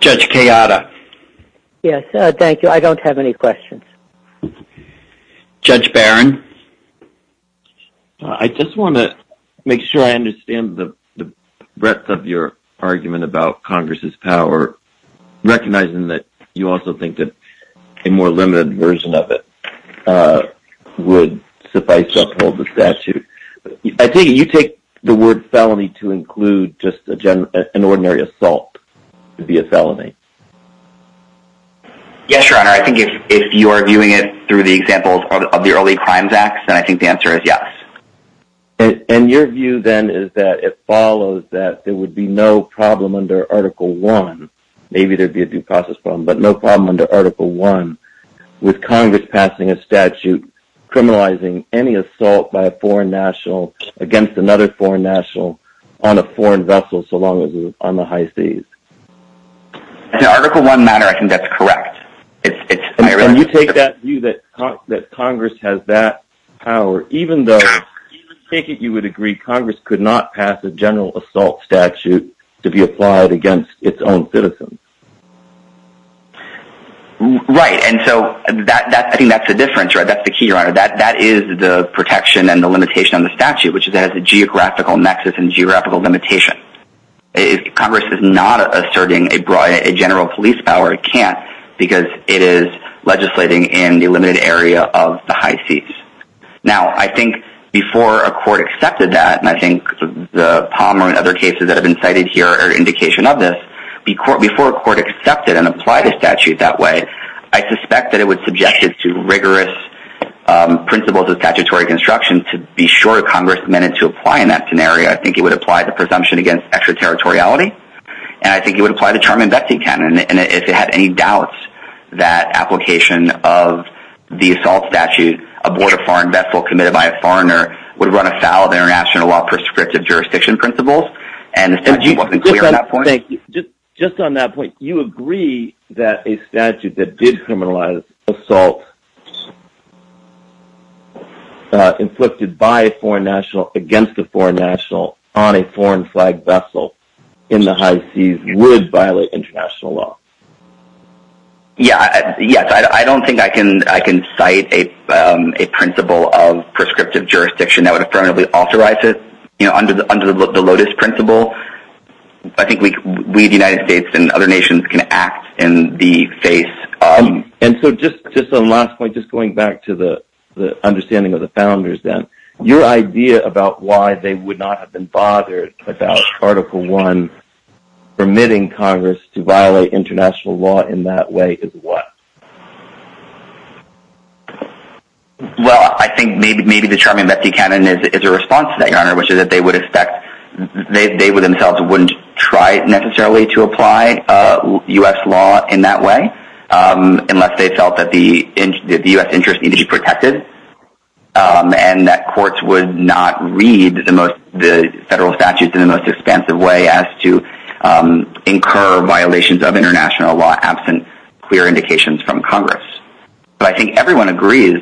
Judge Kayada. Yes, thank you. I don't have any questions. Judge Barron. I just want to make sure I understand the breadth of your argument about Congress's power, recognizing that you also think that a more limited version of it would suffice to uphold the statute. I think you take the word felony to include just an ordinary assault to be a felony. Yes, Your Honor. I think if you are viewing it through the example of the Early Crimes Act, then I think the answer is yes. And your view, then, is that it follows that there would be no problem under Article I, maybe there would be a due process problem, but no problem under Article I with Congress passing a statute criminalizing any assault by a foreign national against another foreign national on a foreign vessel so long as it was on the high seas. In Article I matter, I think that's correct. And you take that view that statute to be applied against its own citizens. Right. And so I think that's the difference. That's the key, Your Honor. That is the protection and the limitation on the statute, which is that it has a geographical nexus and geographical limitation. Congress is not asserting a general police power, it can't, because it is legislating in the limited area of the high seas. Now, I think before a court accepted that, and I think the Palmer and other cases that have been cited here are an indication of this, before a court accepted and applied a statute that way, I suspect that it would subject it to rigorous principles of statutory construction to be sure Congress meant it to apply in that scenario. I think it would apply the presumption against extraterritoriality, and I think it would apply the term investing canon. And if it had any doubts that application of the assault statute aboard a foreign vessel committed by a foreigner would run afoul of international law prescriptive jurisdiction principles, and the statute wasn't clear at that point. Just on that point, you agree that a statute that did criminalize assault inflicted by a foreign national against a foreign national on a foreign flag vessel in the high seas would violate international law. Yes, I don't think I can cite a principle of prescriptive jurisdiction that would affirmably authorize it, you know, under the Lotus principle. I think we, the United States and other nations, can act in the face. And so just on the last point, just going back to the understanding of the founders then, your idea about why they would not have been bothered about Article One, permitting Congress to violate international law in that way is what? Well, I think maybe the Charming Becky canon is a response to that, Your Honor, which is that they would expect, they would themselves wouldn't try necessarily to apply U.S. law in that way, unless they felt that the U.S. interest needed to be protected, and that courts would not read the federal statutes in the most expansive way as to incur violations of international law absent clear indications from Congress. But I think everyone agrees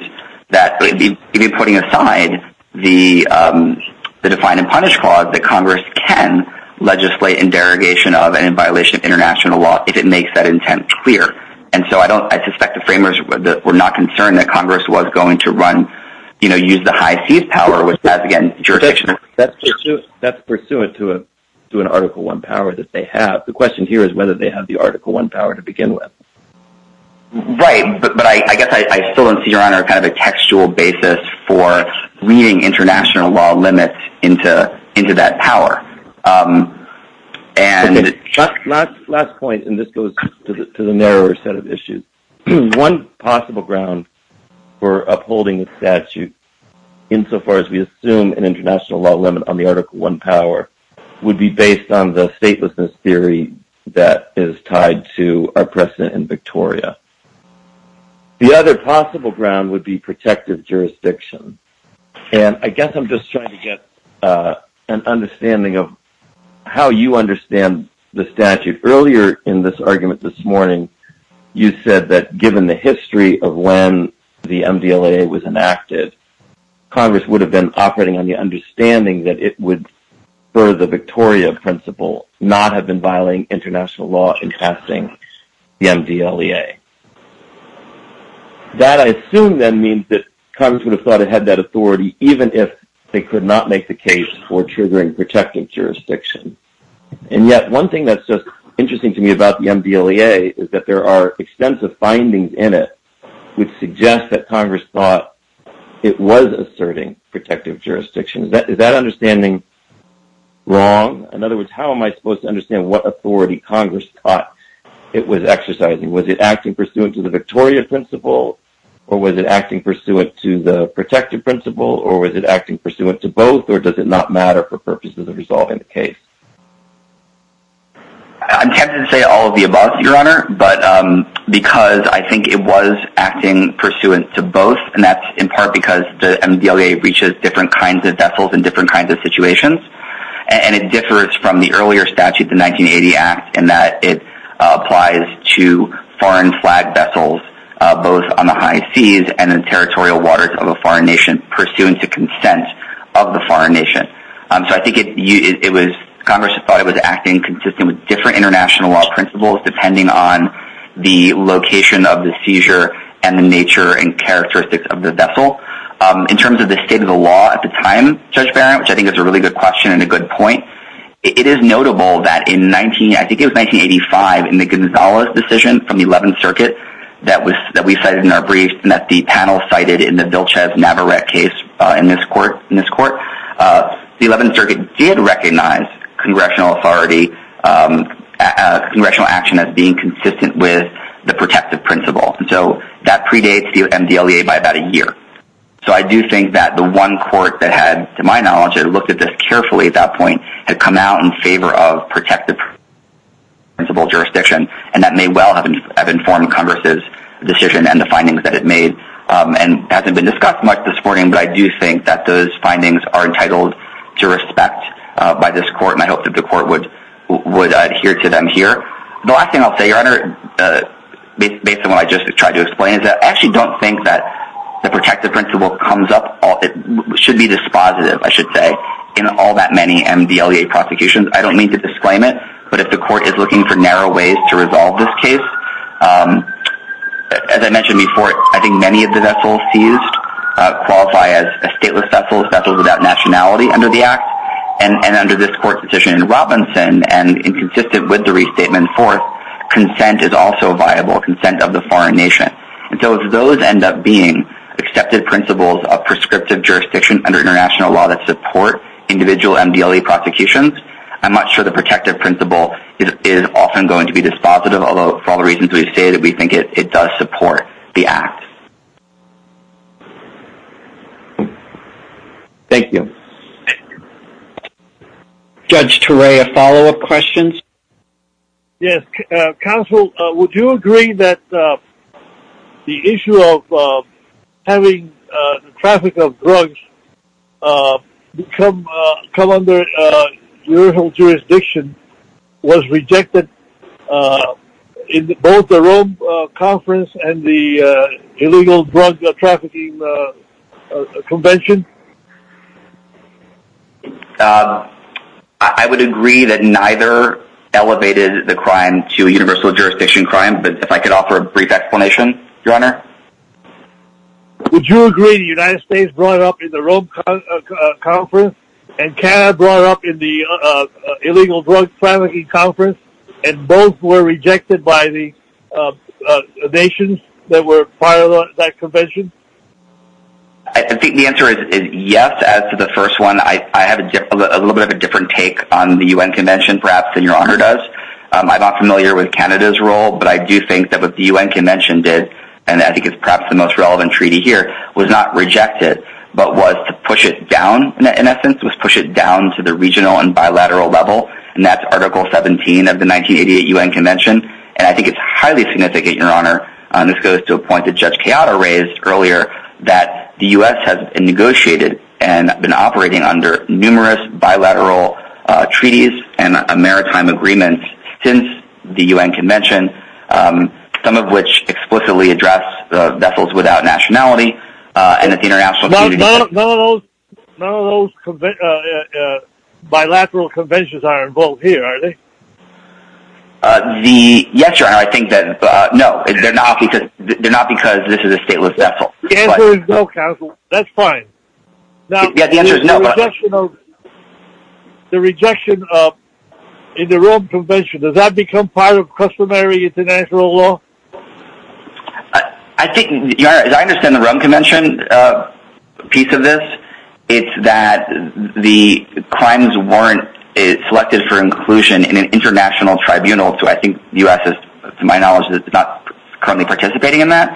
that putting aside the Define and Punish Clause that Congress can legislate in derogation of and in violation of international law if it makes that intent clear. And so I don't I suspect the framers were not concerned that Congress was going to run, you know, use the high seas power, as again, jurisdiction. That's pursuant to an Article One power that they have. The question here is whether they have the Article One power to begin with. Right, but I guess I still don't see, Your Honor, kind of a textual basis for reading international law limits into that power. Last point, and this goes to the narrower set of issues. One possible ground for upholding statute, insofar as we assume an international law limit on the Article One power, would be based on the statelessness theory that is tied to our precedent in Victoria. The other possible ground would be protective jurisdiction. And I guess I'm just trying to get an understanding of how you understand the statute. Earlier in this argument this morning, you said that given the history of when the MDLEA was enacted, Congress would have been operating on the understanding that it would, for the Victoria principle, not have been violating international law in passing the MDLEA. That I assume then means that Congress would have thought it had that authority, even if they could not make the case for triggering protective jurisdiction. And yet, one thing that's just interesting to me about the MDLEA is that there are extensive findings in it which suggest that Congress thought it was asserting protective jurisdiction. Is that understanding wrong? In other words, how am I supposed to understand what authority Congress thought it was exercising? Was it acting pursuant to the Victoria principle, or was it acting pursuant to the protective principle, or was it acting pursuant to both, or does it not matter for purposes of resolving the case? I'm tempted to say all of the above, Your Honor, but because I think it was acting pursuant to both, and that's in part because the MDLEA reaches different kinds of vessels in different kinds of situations. And it differs from the earlier statute, the 1980 Act, in that it applies to foreign flag vessels, both on the high seas and in territorial waters of a foreign nation. So I think it was, Congress thought it was acting consistent with different international law principles, depending on the location of the seizure and the nature and characteristics of the vessel. In terms of the state of the law at the time, Judge Barron, which I think is a really good question and a good point, it is notable that in, I think it was 1985, in the Gonzalez decision from the 11th Circuit that we cited in our brief, and that the panel cited in the Vilchez-Navarrette case in this court, the 11th Circuit did recognize congressional authority, congressional action as being consistent with the protective principle. So that predates the MDLEA by about a year. So I do think that the one court that had, to my knowledge, had looked at this carefully at that point, had come out in favor of protective principle jurisdiction, and that may well have informed Congress's decision and the findings that it made, and hasn't been discussed much this morning, but I do think that those findings are entitled to respect by this court, and I hope that the court would adhere to them here. The last thing I'll say, Your Honor, based on what I just tried to explain, is that I actually don't think that the protective principle comes up, it should be dispositive, I should say, in all that many MDLEA prosecutions. I don't mean to disclaim it, but if the court is looking for I think many of the vessels seized qualify as stateless vessels, vessels without nationality under the Act, and under this court's decision in Robinson, and consistent with the restatement forth, consent is also viable, consent of the foreign nation. So if those end up being accepted principles of prescriptive jurisdiction under international law that support individual MDLEA prosecutions, I'm not sure the protective principle is often going to be dispositive, although for all reasons we stated, we think it does support the Act. Thank you. Judge Ture, a follow-up question? Yes. Counsel, would you agree that the issue of having the traffic of drugs become, come under universal jurisdiction was rejected in both the Rome conference and the illegal drug trafficking convention? I would agree that neither elevated the crime to universal jurisdiction crime, but if I could offer a brief explanation, Your Honor? Would you agree the United States brought up in the Rome conference, and Canada brought up in the illegal drug trafficking conference, and both were rejected by the nations that were part of that convention? I think the answer is yes, as to the first one. I had a little bit of a different take on the UN convention, perhaps than Your Honor does. I'm not familiar with Canada's role, but I do think that what the UN convention did, and I think it's perhaps the most relevant treaty here, was not rejected, but was to push it down, in essence, was to push it down to the regional and bilateral level, and that's Article 17 of the 1988 UN convention, and I think it's highly significant, Your Honor, and this goes to a point that Judge Chiodo raised earlier, that the US has negotiated and been operating under numerous bilateral treaties and maritime agreements since the UN convention, some of which explicitly address the vessels without nationality, and that the international community... None of those bilateral conventions are involved here, are they? Yes, Your Honor, I think that, no, they're not because this is a stateless vessel. The answer is no, counsel. That's fine. Now, the rejection of, in the Rome convention, does that become part of customary international law? I think, Your Honor, as I understand the Rome convention piece of this, it's that the crimes warrant is selected for inclusion in an international tribunal, so I think the US, to my knowledge, is not currently participating in that,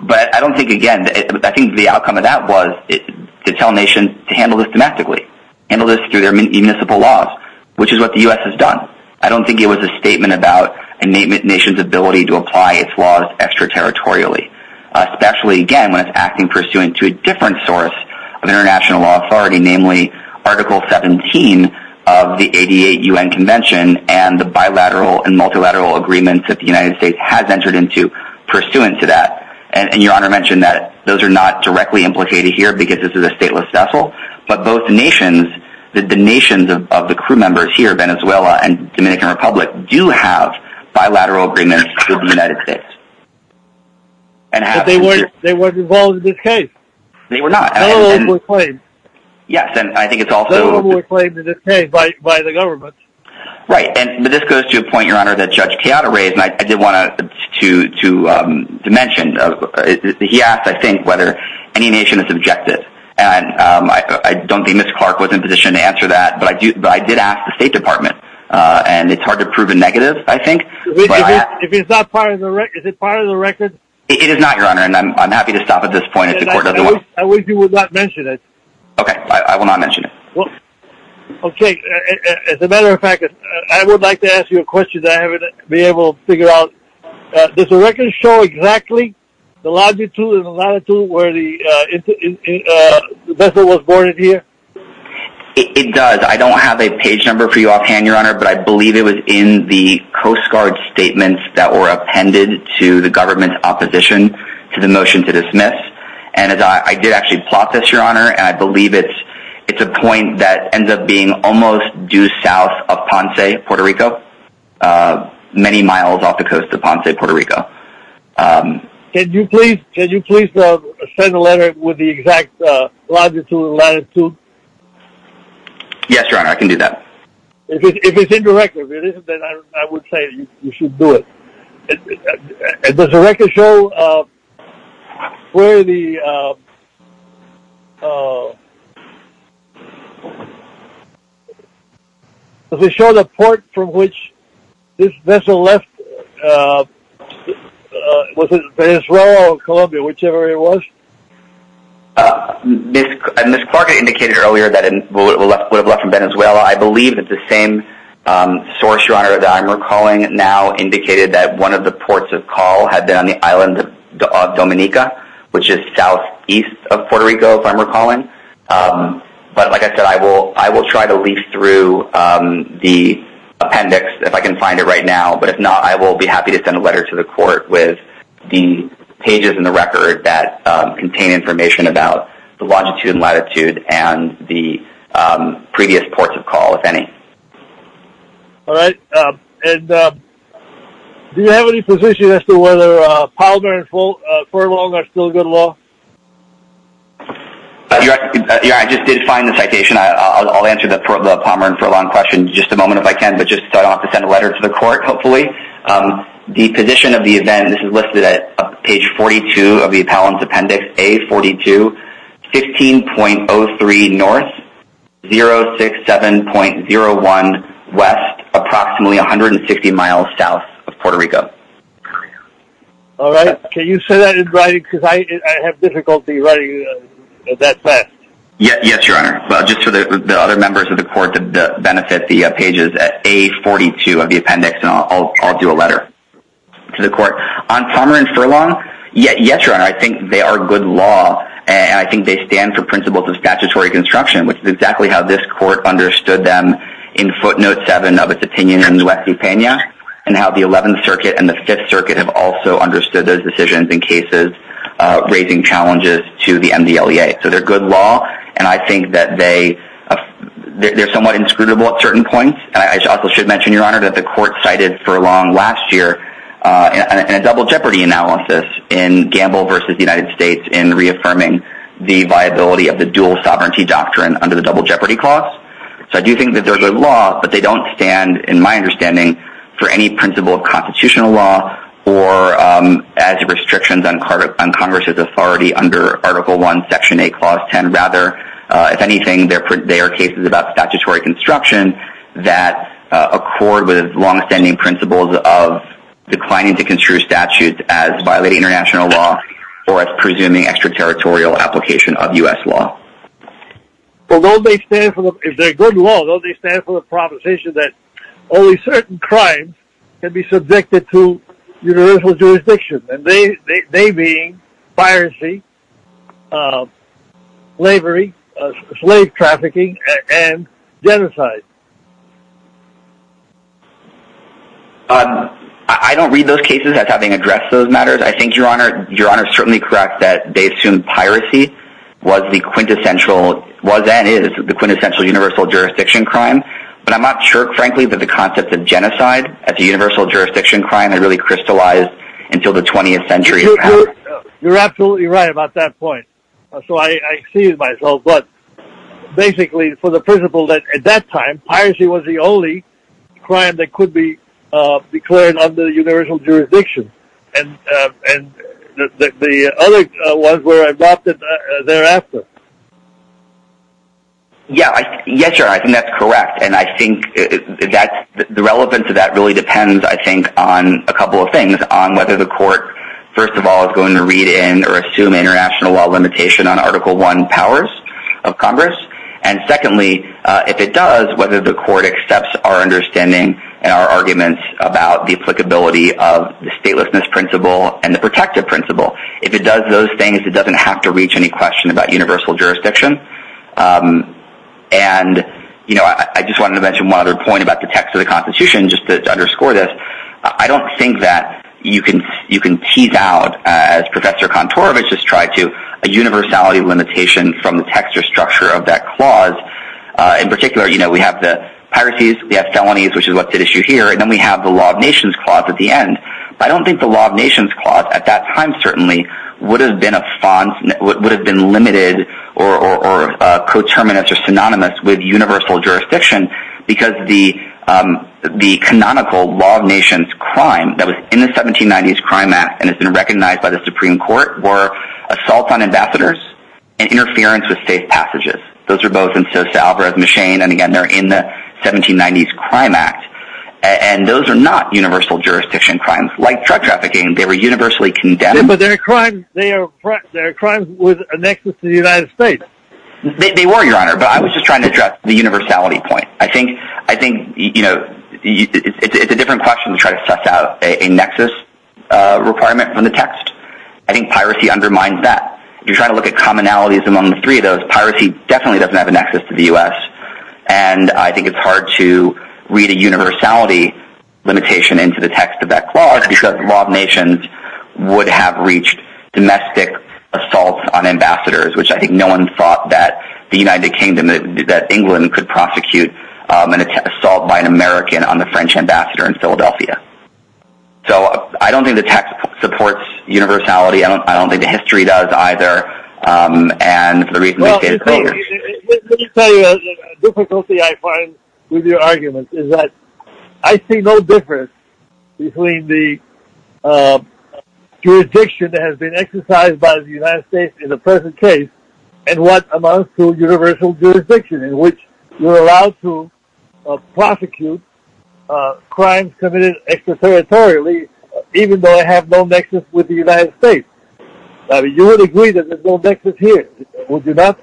but I don't know if that was to tell a nation to handle this domestically, handle this through their municipal laws, which is what the US has done. I don't think it was a statement about a nation's ability to apply its laws extraterritorially, especially, again, when it's acting pursuant to a different source of international law authority, namely Article 17 of the 88 UN convention and the bilateral and multilateral agreements that the United States has entered pursuant to that, and, Your Honor mentioned that those are not directly implicated here because this is a stateless vessel, but both nations, the nations of the crew members here, Venezuela and Dominican Republic, do have bilateral agreements with the United States. But they weren't involved in this case. They were not. Yes, and I think it's also... They were reclaimed in this case by the government. Right, and this goes to a point, Your Honor, that Judge Tejada raised, and I did want to mention. He asked, I think, whether any nation is objective, and I don't think Mr. Clark was in a position to answer that, but I did ask the State Department, and it's hard to prove a negative, I think. If it's not part of the record, is it part of the record? It is not, Your Honor, and I'm happy to stop at this point. I wish you would not mention it. Okay, I will not mention it. Well, okay, as a matter of fact, I would like to ask you a question that I haven't been able to figure out. Does the record show exactly the latitude and the latitude where the vessel was boarded here? It does. I don't have a page number for you offhand, Your Honor, but I believe it was in the Coast Guard statements that were appended to the government's opposition to the motion to dismiss, and I did actually plot this, and I believe it's a point that ends up being almost due south of Ponce, Puerto Rico, many miles off the coast of Ponce, Puerto Rico. Can you please send a letter with the exact latitude and latitude? Yes, Your Honor, I can do that. If it's in the record, I would say you should do it. Does the record show where the... Does it show the port from which this vessel left? Was it Venezuela or Colombia, whichever it was? Ms. Clark indicated earlier that it would have left in Venezuela. I believe that the same source, Your Honor, that I'm recalling now indicated that one of the ports of call had been on the island of Dominica, which is southeast of Puerto Rico, if I'm recalling. But like I said, I will try to leaf through the appendix if I can find it right now, but if not, I will be happy to send a letter to the court with the pages in the record that contain information about the longitude and latitude and the previous ports of call, if any. All right. And do you have any position as to whether Palmer and Furlong are still good law? Your Honor, I just did find the citation. I'll answer the Palmer and Furlong question in just a moment if I can, but just start off to send a letter to the court, hopefully. The position of the event, this is listed at page 42 of the appellant's appendix, A42, 15.03 north, 067.01 west, approximately 150 miles south of Puerto Rico. All right. Can you say that in writing? Because I have difficulty writing that fast. Yes, Your Honor. Just for the other members of the court to benefit the pages at A42 of the appendix, and I'll do a letter to the court. On Palmer and Furlong, yes, Your Honor, I think they are good law, and I think they stand for principles of statutory construction, which is exactly how this court understood them in footnote seven of its opinion in Nuece-Pena, and how the 11th Circuit and the 5th Circuit have also understood those decisions in cases raising challenges to the MDLEA. So they're good law, and I think that they're somewhat inscrutable at certain points. I also should mention, Your Honor, that the court cited Furlong last year in a double jeopardy analysis in Gamble v. The United States in reaffirming the viability of the dual sovereignty doctrine under the double jeopardy clause. So I do think that they're good law, but they don't stand, in my understanding, for any principle of constitutional law or as restrictions on Congress's authority under Article I, Section 8, Clause 10. Rather, if anything, they are cases about statutory construction that accord with long-standing principles of declining to construe statutes as violating international law or as presuming extraterritorial application of U.S. law. But don't they stand for, if they're good law, don't they stand for the proposition that only certain crimes can be subjected to universal jurisdiction, and they being piracy, slavery, slave trafficking, and genocide? I don't read those cases as having addressed those matters. I think Your Honor is certainly correct that they assumed piracy was and is the quintessential universal jurisdiction crime, but I'm not sure, frankly, that the concept of genocide as a universal jurisdiction crime had really crystallized until the 20th century. You're absolutely right. So I excuse myself, but basically, for the principle that at that time, piracy was the only crime that could be declared under universal jurisdiction, and the other ones were adopted thereafter. Yes, Your Honor, I think that's correct, and I think the relevance of that really depends, I think, on a couple of things, on whether the court, first of all, is going to assume international law limitation on Article I powers of Congress, and secondly, if it does, whether the court accepts our understanding and our arguments about the applicability of the statelessness principle and the protective principle. If it does those things, it doesn't have to reach any question about universal jurisdiction. I just wanted to mention one other point about the text of the Constitution, just to underscore this. I don't think that you can tease out, as Professor Kontorovich just tried to, a universality limitation from the text or structure of that clause. In particular, we have the piracies, we have felonies, which is what's at issue here, and then we have the Law of Nations clause at the end. I don't think the Law of Nations clause, at that time, certainly, would have been a font, would have been limited or coterminous or synonymous with universal jurisdiction, because the canonical Law of Nations in the 1790s Crime Act, and it's been recognized by the Supreme Court, were assaults on ambassadors and interference with state passages. Those are both in the 1790s Crime Act, and those are not universal jurisdiction crimes. Like drug trafficking, they were universally condemned. But they're crimes with a nexus to the United States. They were, Your Honor, but I was just trying to address the universality point. I think it's a different question to try to suss out a nexus requirement from the text. I think piracy undermines that. If you're trying to look at commonalities among the three of those, piracy definitely doesn't have a nexus to the U.S., and I think it's hard to read a universality limitation into the text of that clause, because the Law of Nations would have reached domestic assaults on ambassadors, which I think no one thought that the United Kingdom, that England could prosecute an assault by an ambassador. So I don't think the text supports universality. I don't think the history does, either. And the reason is... Let me tell you a difficulty I find with your arguments, is that I see no difference between the jurisdiction that has been exercised by the United States in the present case, and what amounts to universal jurisdiction, in which you're allowed to exercise territorially, even though I have no nexus with the United States. You would agree that there's no nexus here, would you not?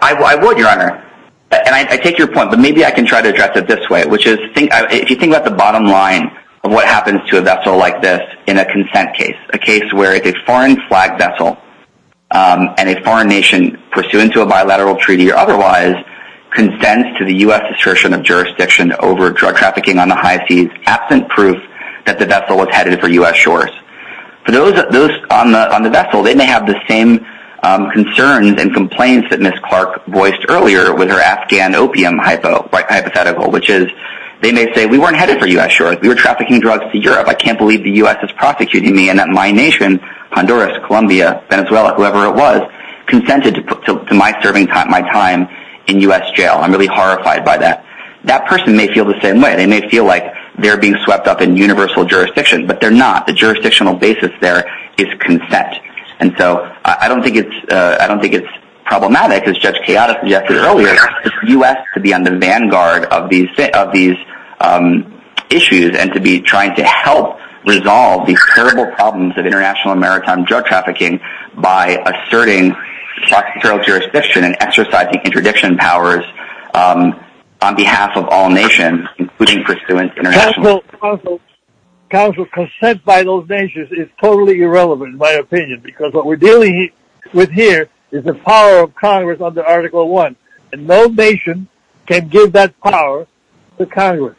I would, Your Honor. And I take your point, but maybe I can try to address it this way, which is, if you think about the bottom line of what happens to a vessel like this in a consent case, a case where it's a foreign flag vessel, and a foreign nation pursuant to a bilateral treaty, or otherwise, consents to the U.S. assertion of jurisdiction over drug trafficking on the absent proof that the vessel was headed for U.S. shores. For those on the vessel, they may have the same concerns and complaints that Ms. Clark voiced earlier with her Afghan opium hypothetical, which is, they may say, we weren't headed for U.S. shores. We were trafficking drugs to Europe. I can't believe the U.S. is prosecuting me, and that my nation, Honduras, Colombia, Venezuela, whoever it was, consented to my serving time, my time in U.S. jail. I'm really horrified by that. That person may feel the same way. They may feel like they're being swept up in universal jurisdiction, but they're not. The jurisdictional basis there is consent. And so, I don't think it's problematic, as Judge Chaotic suggested earlier, for the U.S. to be on the vanguard of these issues, and to be trying to help resolve these terrible problems of international maritime drug by asserting jurisdiction and exercising interdiction powers on behalf of all nations. Counsel, consent by those nations is totally irrelevant, in my opinion, because what we're dealing with here is the power of Congress under Article 1, and no nation can give that power to Congress,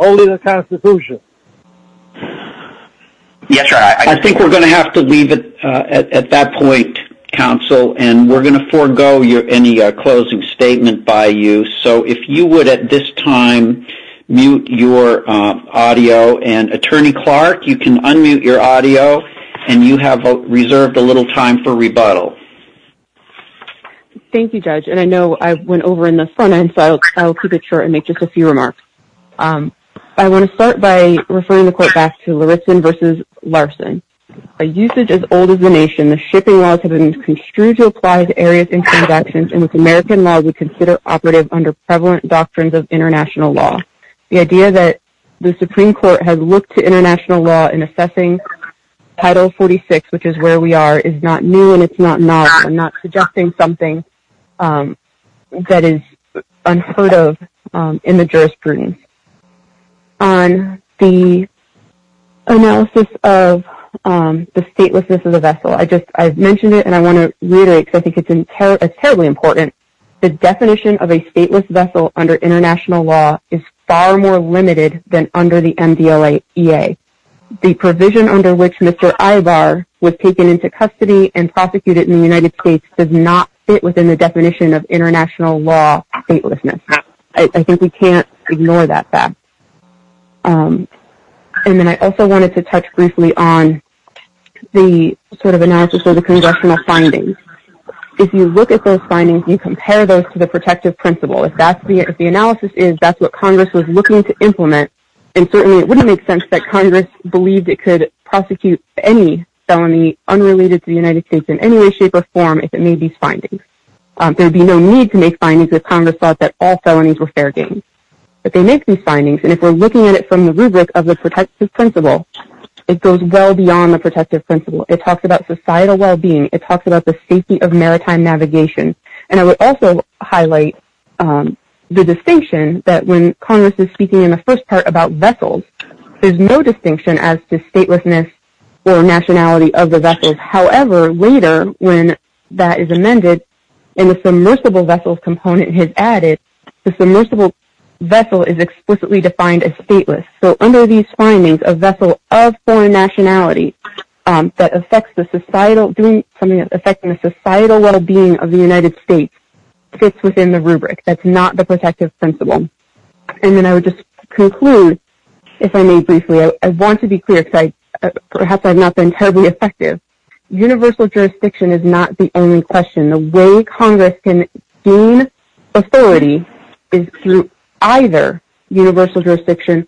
only the Constitution. I think we're going to have to leave it at that point, Counsel, and we're going to forgo any closing statement by you. So, if you would, at this time, mute your audio. And, Attorney Clark, you can unmute your audio, and you have reserved a little time for rebuttal. Thank you, Judge. And I know I went over in the front end, so I'll keep it short and make just a few remarks. I want to start by referring the Court back to Larison v. Larson. By usage as old as the nation, the shipping laws have been construed to apply to areas in transactions, and with American law, we consider operative under prevalent doctrines of international law. The idea that the Supreme Court has looked to international law in assessing Title 46, which is where we are, is not new, and it's not novel. I'm not suggesting something that is unheard of in the jurisprudence. On the analysis of the statelessness of the vessel, I've mentioned it, and I want to reiterate, because I think it's terribly important, the definition of a stateless vessel under international law is far more limited than under the MDLA EA. The provision under which Mr. Ibar was taken into custody and prosecuted in the definition of international law statelessness. I think we can't ignore that fact. And then I also wanted to touch briefly on the sort of analysis of the congressional findings. If you look at those findings, you compare those to the protective principle. If the analysis is that's what Congress was looking to implement, then certainly it wouldn't make sense that Congress believed it could prosecute any felony unrelated to the United States in any way, shape, or form if it made these findings. There'd be no need to make findings if Congress thought that all felonies were fair game. But they make these findings, and if we're looking at it from the rubric of the protective principle, it goes well beyond the protective principle. It talks about societal well-being. It talks about the safety of maritime navigation. And I would also highlight the distinction that when Congress is speaking in the first part about vessels, there's no distinction as to statelessness or nationality of the vessels. However, later when that is amended and the submersible vessels component is added, the submersible vessel is explicitly defined as stateless. So under these findings, a vessel of foreign nationality that affects the societal well-being of the United States fits within the rubric. That's not the protective principle. And then I would just conclude, if I may briefly. I want to say that universal jurisdiction is not the only question. The way Congress can gain authority is through either universal jurisdiction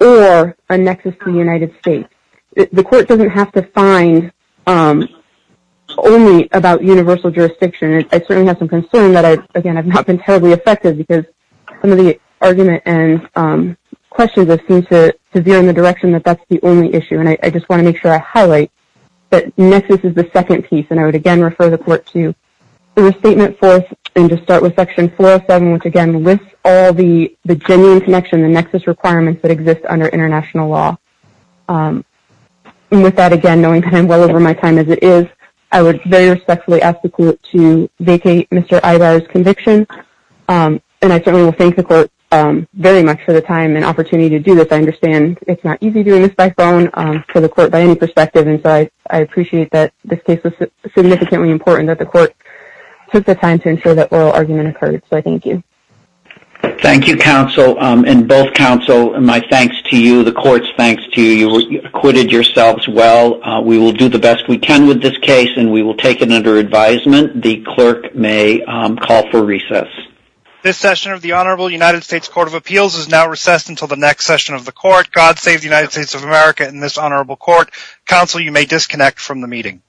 or a nexus in the United States. The court doesn't have to find only about universal jurisdiction. I certainly have some concern that, again, I've not been terribly effective because some of the argument and questions have seemed to veer in the direction that that's the only issue. And I just want to make sure I highlight that nexus is the second piece. And I would, again, refer the court to the restatement fourth and just start with section 407, which, again, lists all the genuine connection, the nexus requirements that exist under international law. And with that, again, knowing that I'm well over my time as it is, I would very respectfully ask the court to vacate Mr. Ivar's conviction. And I certainly will thank the court very much for the time and opportunity to do this. I understand it's not easy doing this by phone to the court by any perspective. I appreciate that this case was significantly important that the court took the time to ensure that oral argument occurred. So I thank you. Thank you, counsel, and both counsel and my thanks to you, the court's thanks to you. You acquitted yourselves well. We will do the best we can with this case and we will take it under advisement. The clerk may call for recess. This session of the Honorable United States Court of Appeals is now recessed until the next session of the court. God save the United States of America and this honorable court. Counsel, you may disconnect from the meeting.